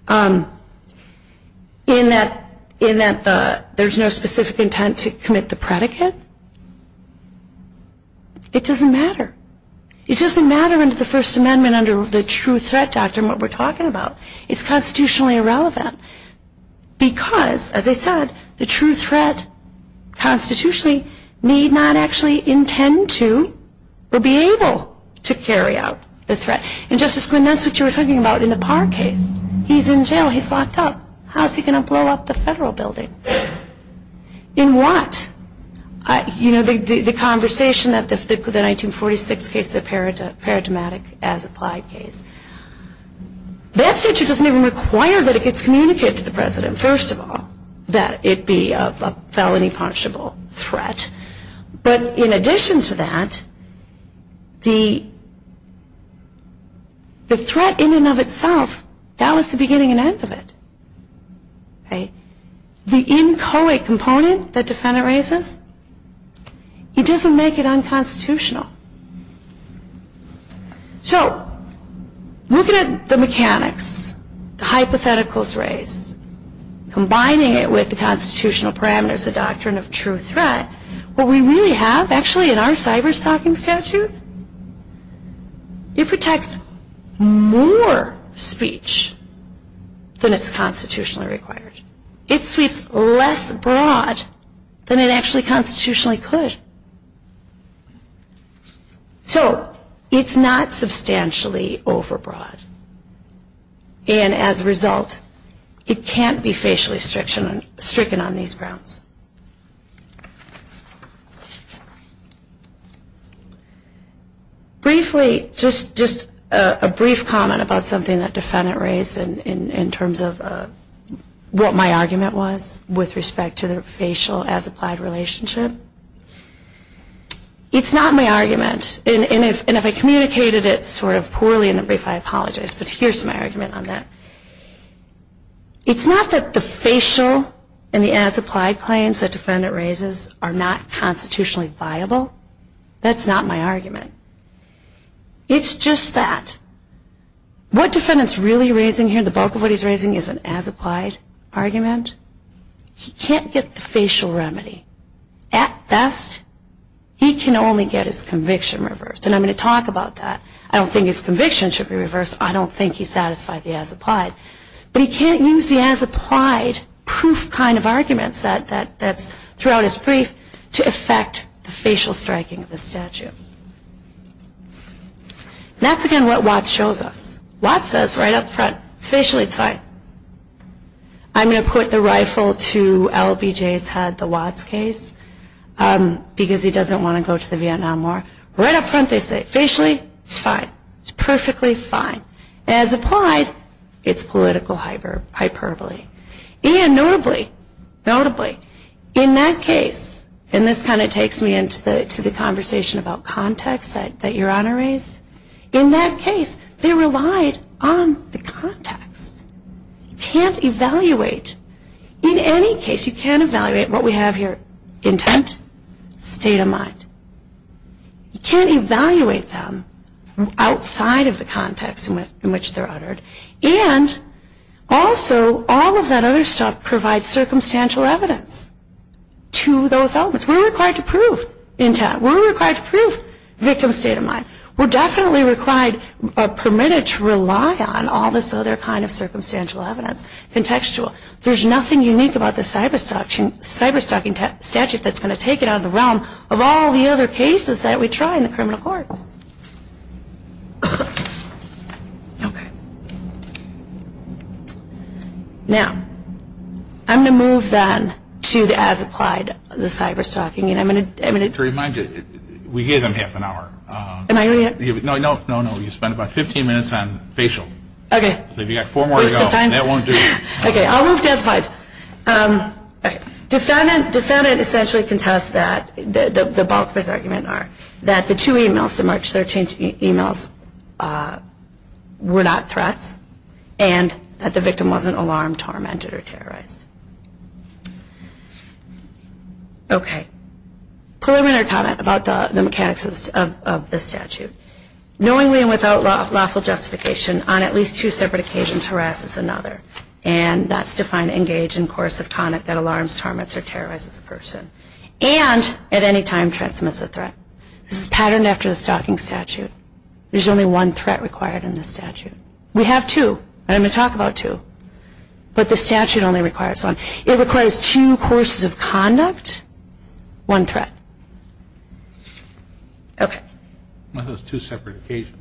in that there's no specific intent to commit the predicate, it doesn't matter. It doesn't matter under the First Amendment, under the true threat doctrine what we're talking about. It's constitutionally irrelevant because, as I said, the true threat constitutionally need not actually intend to or be able to carry out the threat. And Justice Quinn, that's what you were talking about in the Parr case. He's in jail. He's locked up. How's he going to blow up the federal building? In what? You know, the conversation that the 1946 case, the paradigmatic as applied case, that statute doesn't even require that it gets communicated to the president, first of all, that it be a felony punishable threat. But in addition to that, the threat in and of itself, that was the beginning and end of it. The inchoate component that defendant raises, it doesn't make it unconstitutional. So looking at the mechanics, the hypotheticals raised, combining it with the constitutional parameters, the doctrine of true threat, what we really have actually in our cyberstalking statute, it protects more speech than is constitutionally required. It sweeps less broad than it actually constitutionally could. So it's not substantially overbroad. And as a result, it can't be facially stricken on these grounds. Briefly, just a brief comment about something that defendant raised in terms of what my argument was with respect to the facial as applied relationship. It's not my argument. And if I communicated it sort of poorly in the brief, I apologize. But here's my argument on that. It's not that the facial and the as applied claims that defendant raises are not constitutionally viable. That's not my argument. It's just that. What defendant's really raising here, the bulk of what he's raising is an as applied argument. He can't get the facial remedy. At best, he can only get his conviction reversed. And I'm going to talk about that. I don't think his conviction should be reversed. I don't think he's satisfied the as applied. But he can't use the as applied proof kind of arguments that's throughout his brief to affect the facial striking of the statute. That's, again, what Watts shows us. Watts says right up front, facially it's fine. I'm going to put the rifle to LBJ's head, the Watts case, because he doesn't want to go to the Vietnam War. Right up front they say, facially, it's fine. It's perfectly fine. As applied, it's political hyperbole. Notably, in that case, and this kind of takes me into the conversation about context that your Honor raised. In that case, they relied on the context. You can't evaluate. In any case, you can't evaluate what we have here, intent, state of mind. You can't evaluate them outside of the context in which they're uttered. And also, all of that other stuff provides circumstantial evidence to those elements. We're required to prove intent. We're required to prove victim's state of mind. We're definitely permitted to rely on all this other kind of circumstantial evidence, contextual. There's nothing unique about the cyber-stalking statute that's going to take it out of the realm of all the other cases that we try in the criminal courts. Okay. Now, I'm going to move then to the as applied, the cyber-stalking. And I'm going to – To remind you, we gave them half an hour. Am I – No, no, no, no. You spent about 15 minutes on facial. Okay. So if you've got four more to go, that won't do. Okay. I'll move to as applied. Defendant essentially contests that, the bulk of his argument are, that the two emails, the March 13th emails, were not threats and that the victim wasn't alarmed, tormented, or terrorized. Okay. Preliminary comment about the mechanics of this statute. Knowingly and without lawful justification, on at least two separate occasions, one person harasses another. And that's defined engaged in coercive conduct that alarms, torments, or terrorizes a person. And at any time transmits a threat. This is patterned after the stalking statute. There's only one threat required in this statute. We have two, and I'm going to talk about two. But the statute only requires one. It requires two courses of conduct, one threat. Okay. What are those two separate occasions?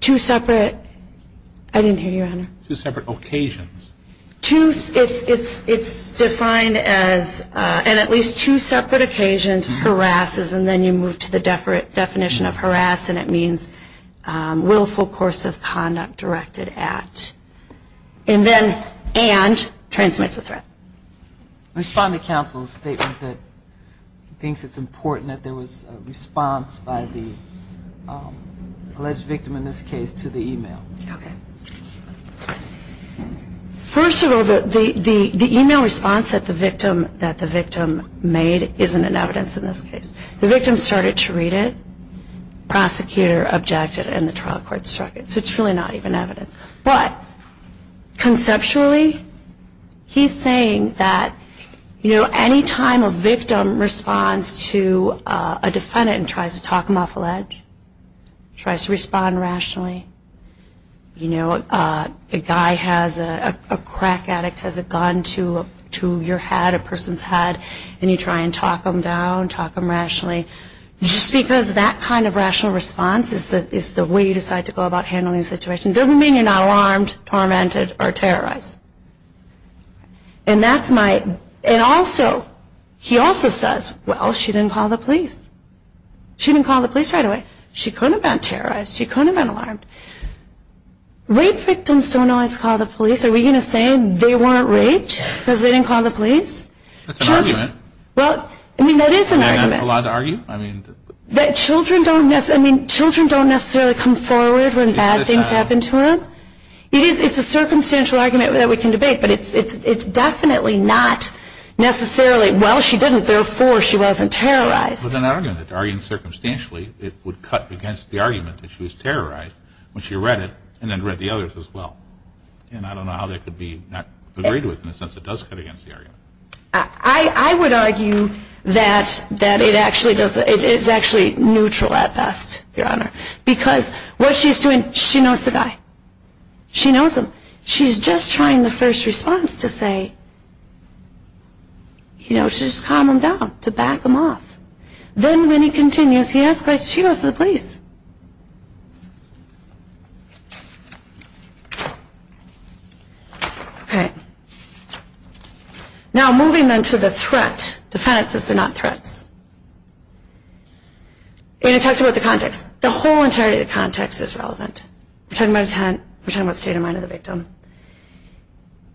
Two separate, I didn't hear you, Your Honor. Two separate occasions. Two, it's defined as, on at least two separate occasions, harasses, and then you move to the definition of harass, and it means willful course of conduct directed at. And then, and transmits a threat. I respond to counsel's statement that thinks it's important that there was a response by the alleged victim in this case to the email. Okay. First of all, the email response that the victim made isn't in evidence in this case. The victim started to read it, prosecutor objected, and the trial court struck it. So it's really not even evidence. Any time a victim responds to a defendant and tries to talk them off a ledge, tries to respond rationally, you know, a guy has, a crack addict has a gun to your head, a person's head, and you try and talk them down, talk them rationally, just because that kind of rational response is the way you decide to go about handling the situation, doesn't mean you're not alarmed, tormented, or terrorized. And that's my, and also, he also says, well, she didn't call the police. She didn't call the police right away. She couldn't have been terrorized. She couldn't have been alarmed. Rape victims don't always call the police. Are we going to say they weren't raped because they didn't call the police? That's an argument. Well, I mean, that is an argument. You don't have a lot to argue, I mean. That children don't necessarily, I mean, children don't necessarily come forward when bad things happen to them. It's a circumstantial argument that we can debate, but it's definitely not necessarily, well, she didn't, therefore, she wasn't terrorized. It's an argument. To argue circumstantially, it would cut against the argument that she was terrorized when she read it and then read the others as well. And I don't know how that could be not agreed with in the sense it does cut against the argument. I would argue that it actually does, it is actually neutral at best, Your Honor, because what she's doing, she knows the guy. She knows him. She's just trying the first response to say, you know, to just calm him down, to back him off. Then when he continues, he escalates, she goes to the police. Okay. Now, moving then to the threat. Defendants are not threats. And it talks about the context. The whole entirety of the context is relevant. We're talking about state of mind of the victim.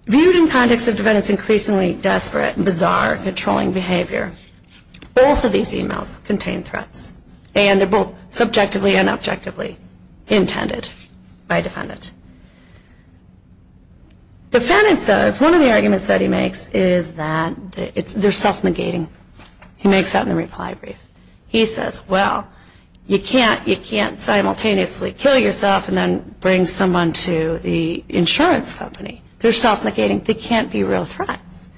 Viewed in context of defendant's increasingly desperate, bizarre, controlling behavior, both of these emails contain threats. And they're both subjectively and objectively intended by a defendant. Defendant says, one of the arguments that he makes is that they're self-negating. He makes that in the reply brief. He says, well, you can't simultaneously kill yourself and then bring someone to the insurance company. They're self-negating. They can't be real threats.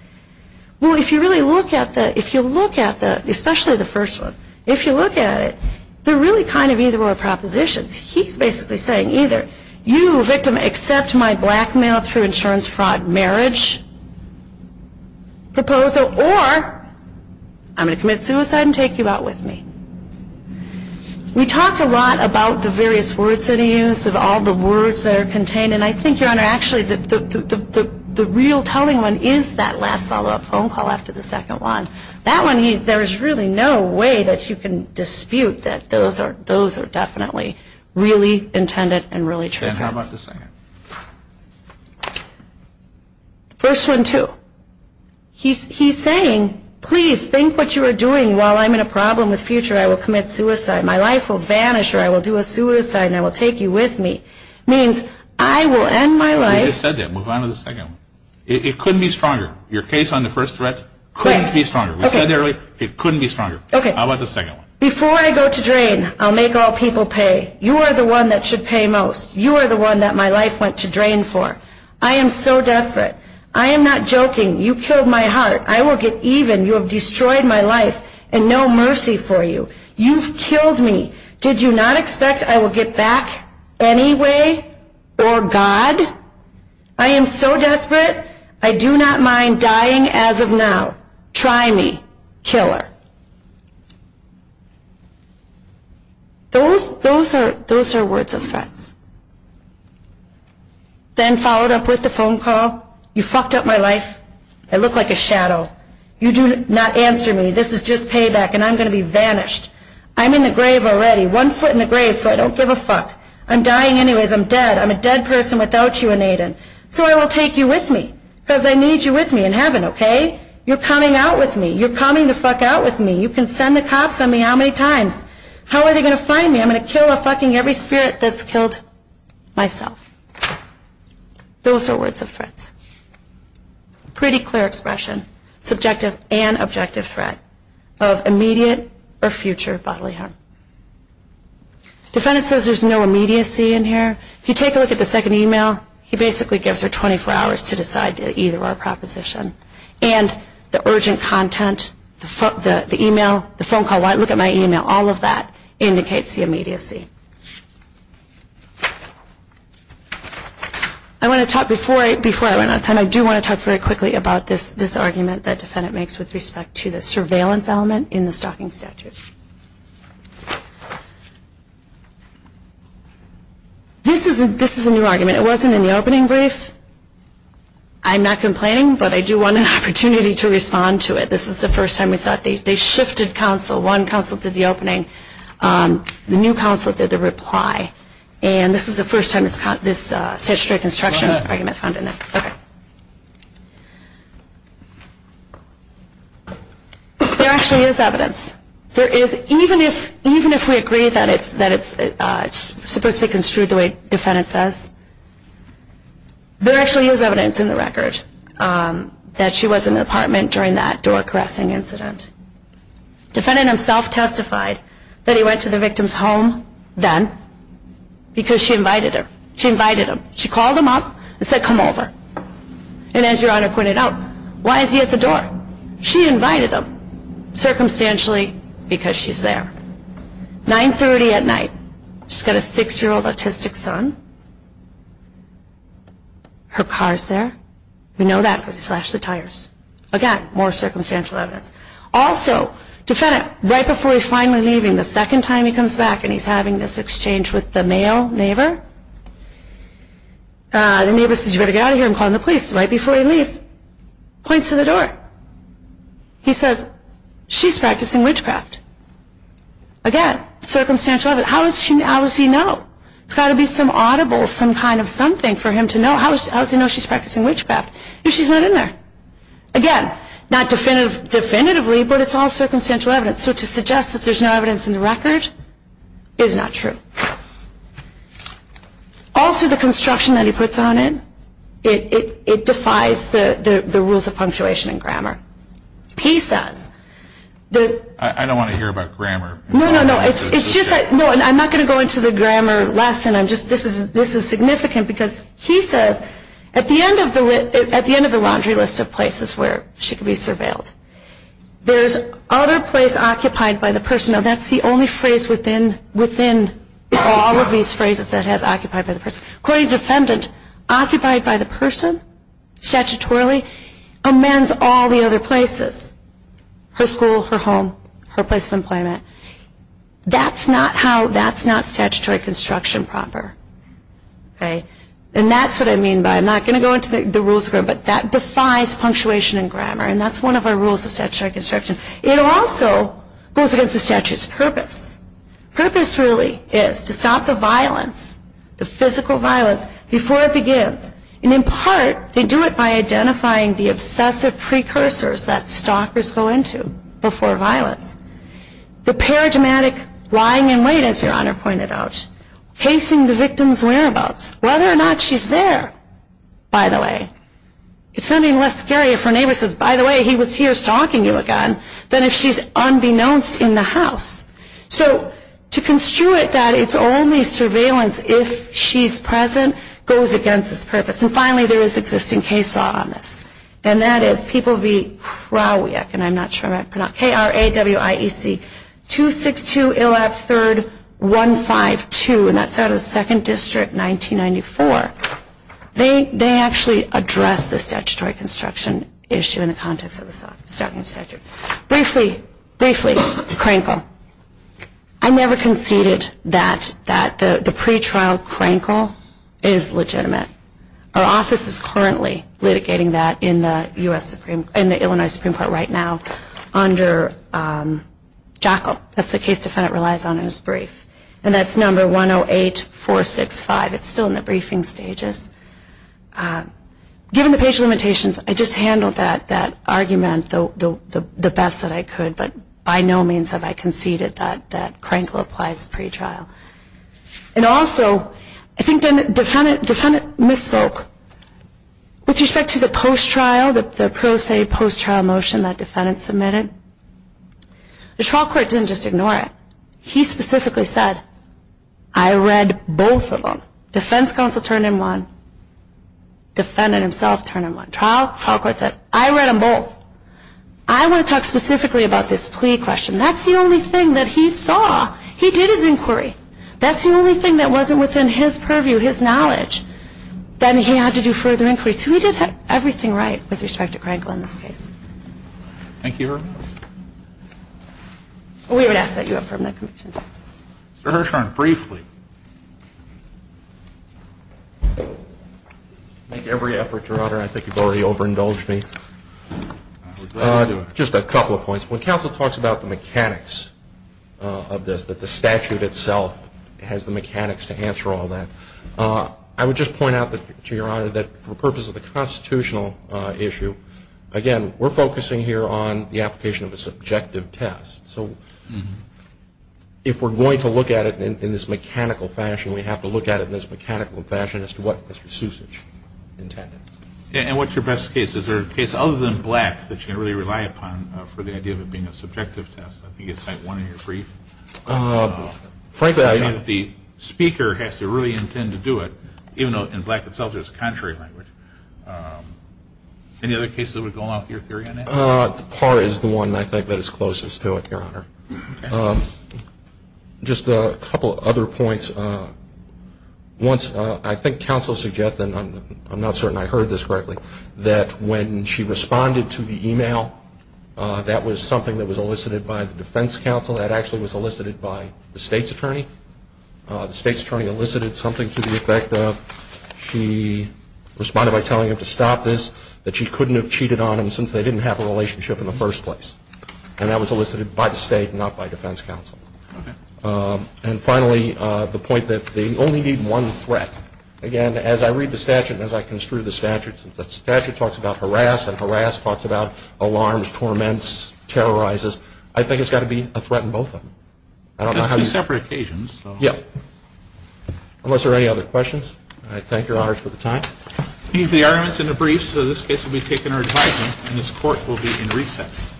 Well, if you really look at the, if you look at the, especially the first one, if you look at it, they're really kind of either-or propositions. He's basically saying either you, victim, accept my blackmail through insurance fraud marriage proposal or I'm going to commit suicide and take you out with me. We talked a lot about the various words that he used, about all the words that are contained. And I think, Your Honor, actually the real telling one is that last follow-up phone call after the second one. That one, there's really no way that you can dispute that those are definitely really intended and really true threats. And how about the second? First one, too. He's saying, please, think what you are doing while I'm in a problem with future. I will commit suicide. My life will vanish or I will do a suicide and I will take you with me. It means I will end my life. You just said that. Move on to the second one. It couldn't be stronger. Your case on the first threat couldn't be stronger. We said earlier it couldn't be stronger. Okay. How about the second one? Before I go to drain, I'll make all people pay. You are the one that should pay most. You are the one that my life went to drain for. I am so desperate. I am not joking. You killed my heart. I will get even. You have destroyed my life and no mercy for you. You've killed me. Did you not expect I will get back anyway or God? I am so desperate. I do not mind dying as of now. Try me, killer. Those are words of threats. Then followed up with the phone call. You fucked up my life. I look like a shadow. You do not answer me. This is just payback and I'm going to be vanished. I'm in the grave already, one foot in the grave, so I don't give a fuck. I'm dying anyways. I'm dead. I'm a dead person without you and Aidan. So I will take you with me because I need you with me in heaven, okay? You're coming out with me. You're coming the fuck out with me. You can send the cops on me how many times. How are they going to find me? I'm going to kill a fucking every spirit that's killed myself. Those are words of threats. Pretty clear expression, subjective and objective threat of immediate or future bodily harm. Defendant says there's no immediacy in here. If you take a look at the second email, he basically gives her 24 hours to decide either our proposition and the urgent content, the email, the phone call. Look at my email. All of that indicates the immediacy. Before I run out of time, I do want to talk very quickly about this argument that defendant makes with respect to the surveillance element in the stalking statute. This is a new argument. It wasn't in the opening brief. I'm not complaining, but I do want an opportunity to respond to it. This is the first time we saw it. They shifted counsel. One counsel did the opening. The new counsel did the reply. And this is the first time this statutory construction argument found in it. There actually is evidence. Even if we agree that it's supposed to be construed the way defendant says, there actually is evidence in the record that she was in the apartment during that door caressing incident. Defendant himself testified that he went to the victim's home then because she invited him. She invited him. She called him up and said, come over. And as Your Honor pointed out, why is he at the door? She invited him circumstantially because she's there. 930 at night. She's got a six-year-old autistic son. Her car is there. We know that because he slashed the tires. Again, more circumstantial evidence. Also, defendant, right before he's finally leaving, the second time he comes back and he's having this exchange with the male neighbor, the neighbor says, you better get out of here. I'm calling the police. Right before he leaves, points to the door. He says, she's practicing witchcraft. Again, circumstantial evidence. How does he know? There's got to be some audible, some kind of something for him to know. How does he know she's practicing witchcraft if she's not in there? Again, not definitively, but it's all circumstantial evidence. So to suggest that there's no evidence in the record is not true. Also, the construction that he puts on it, it defies the rules of punctuation and grammar. He says. I don't want to hear about grammar. No, no, no. I'm not going to go into the grammar lesson. This is significant because he says, at the end of the laundry list of places where she could be surveilled, there's other place occupied by the person. That's the only phrase within all of these phrases that has occupied by the person. According to the defendant, occupied by the person, statutorily, amends all the other places. Her school, her home, her place of employment. That's not how, that's not statutory construction proper. And that's what I mean by, I'm not going to go into the rules, but that defies punctuation and grammar. And that's one of our rules of statutory construction. It also goes against the statute's purpose. Purpose really is to stop the violence, the physical violence, before it begins. And in part, they do it by identifying the obsessive precursors that stalkers go into before violence. The paradigmatic lying in wait, as Your Honor pointed out. Hasting the victim's whereabouts. Whether or not she's there, by the way. It's something less scary if her neighbor says, by the way, he was here stalking you again, than if she's unbeknownst in the house. So, to construe it that it's only surveillance if she's present, goes against its purpose. And finally, there is existing case law on this. And that is, People v. Krawiec, and I'm not sure how to pronounce, K-R-A-W-I-E-C, 262-113-152, and that's out of the 2nd District, 1994. They actually address the statutory construction issue in the context of the stalking statute. Briefly, Crankle, I never conceded that the pretrial Crankle is legitimate. Our office is currently litigating that in the Illinois Supreme Court right now under Jockle. That's the case defendant relies on in his brief. And that's number 108465. It's still in the briefing stages. Given the page limitations, I just handled that argument the best that I could, but by no means have I conceded that Crankle applies pretrial. And also, I think the defendant misspoke. With respect to the post-trial, the pro se post-trial motion that defendant submitted, the trial court didn't just ignore it. He specifically said, I read both of them. Defense counsel turned in one. Defendant himself turned in one. Trial court said, I read them both. I want to talk specifically about this plea question. That's the only thing that he saw. He did his inquiry. That's the only thing that wasn't within his purview, his knowledge. Then he had to do further inquiry. Thank you, Your Honor. We would ask that you affirm that conviction. Mr. Hirshhorn, briefly. I make every effort, Your Honor. I think you've already overindulged me. Just a couple of points. When counsel talks about the mechanics of this, that the statute itself has the mechanics to answer all that, I would just point out to Your Honor that for the purpose of the constitutional issue, again, we're focusing here on the application of a subjective test. So if we're going to look at it in this mechanical fashion, we have to look at it in this mechanical fashion as to what Mr. Susage intended. And what's your best case? Is there a case other than Black that you can really rely upon for the idea of it being a subjective test? I think you can cite one in your brief. Frankly, I mean the speaker has to really intend to do it, even though in Black itself there's a contrary language. Any other cases that would go along with your theory on that? Parr is the one, I think, that is closest to it, Your Honor. Okay. Just a couple of other points. Once, I think counsel suggested, and I'm not certain I heard this correctly, that when she responded to the e-mail, that was something that was elicited by the defense counsel. That actually was elicited by the state's attorney. The state's attorney elicited something to the effect of she responded by telling him to stop this, that she couldn't have cheated on him since they didn't have a relationship in the first place. And that was elicited by the state, not by defense counsel. And finally, the point that they only need one threat. Again, as I read the statute and as I construe the statute, the statute talks about harass, and harass talks about alarms, torments, terrorizes. I think it's got to be a threat in both of them. Just two separate occasions. Yeah. Thank you. Unless there are any other questions, I thank Your Honor for the time. The argument is in the briefs, so this case will be taken in our advisement, and this court will be in recess.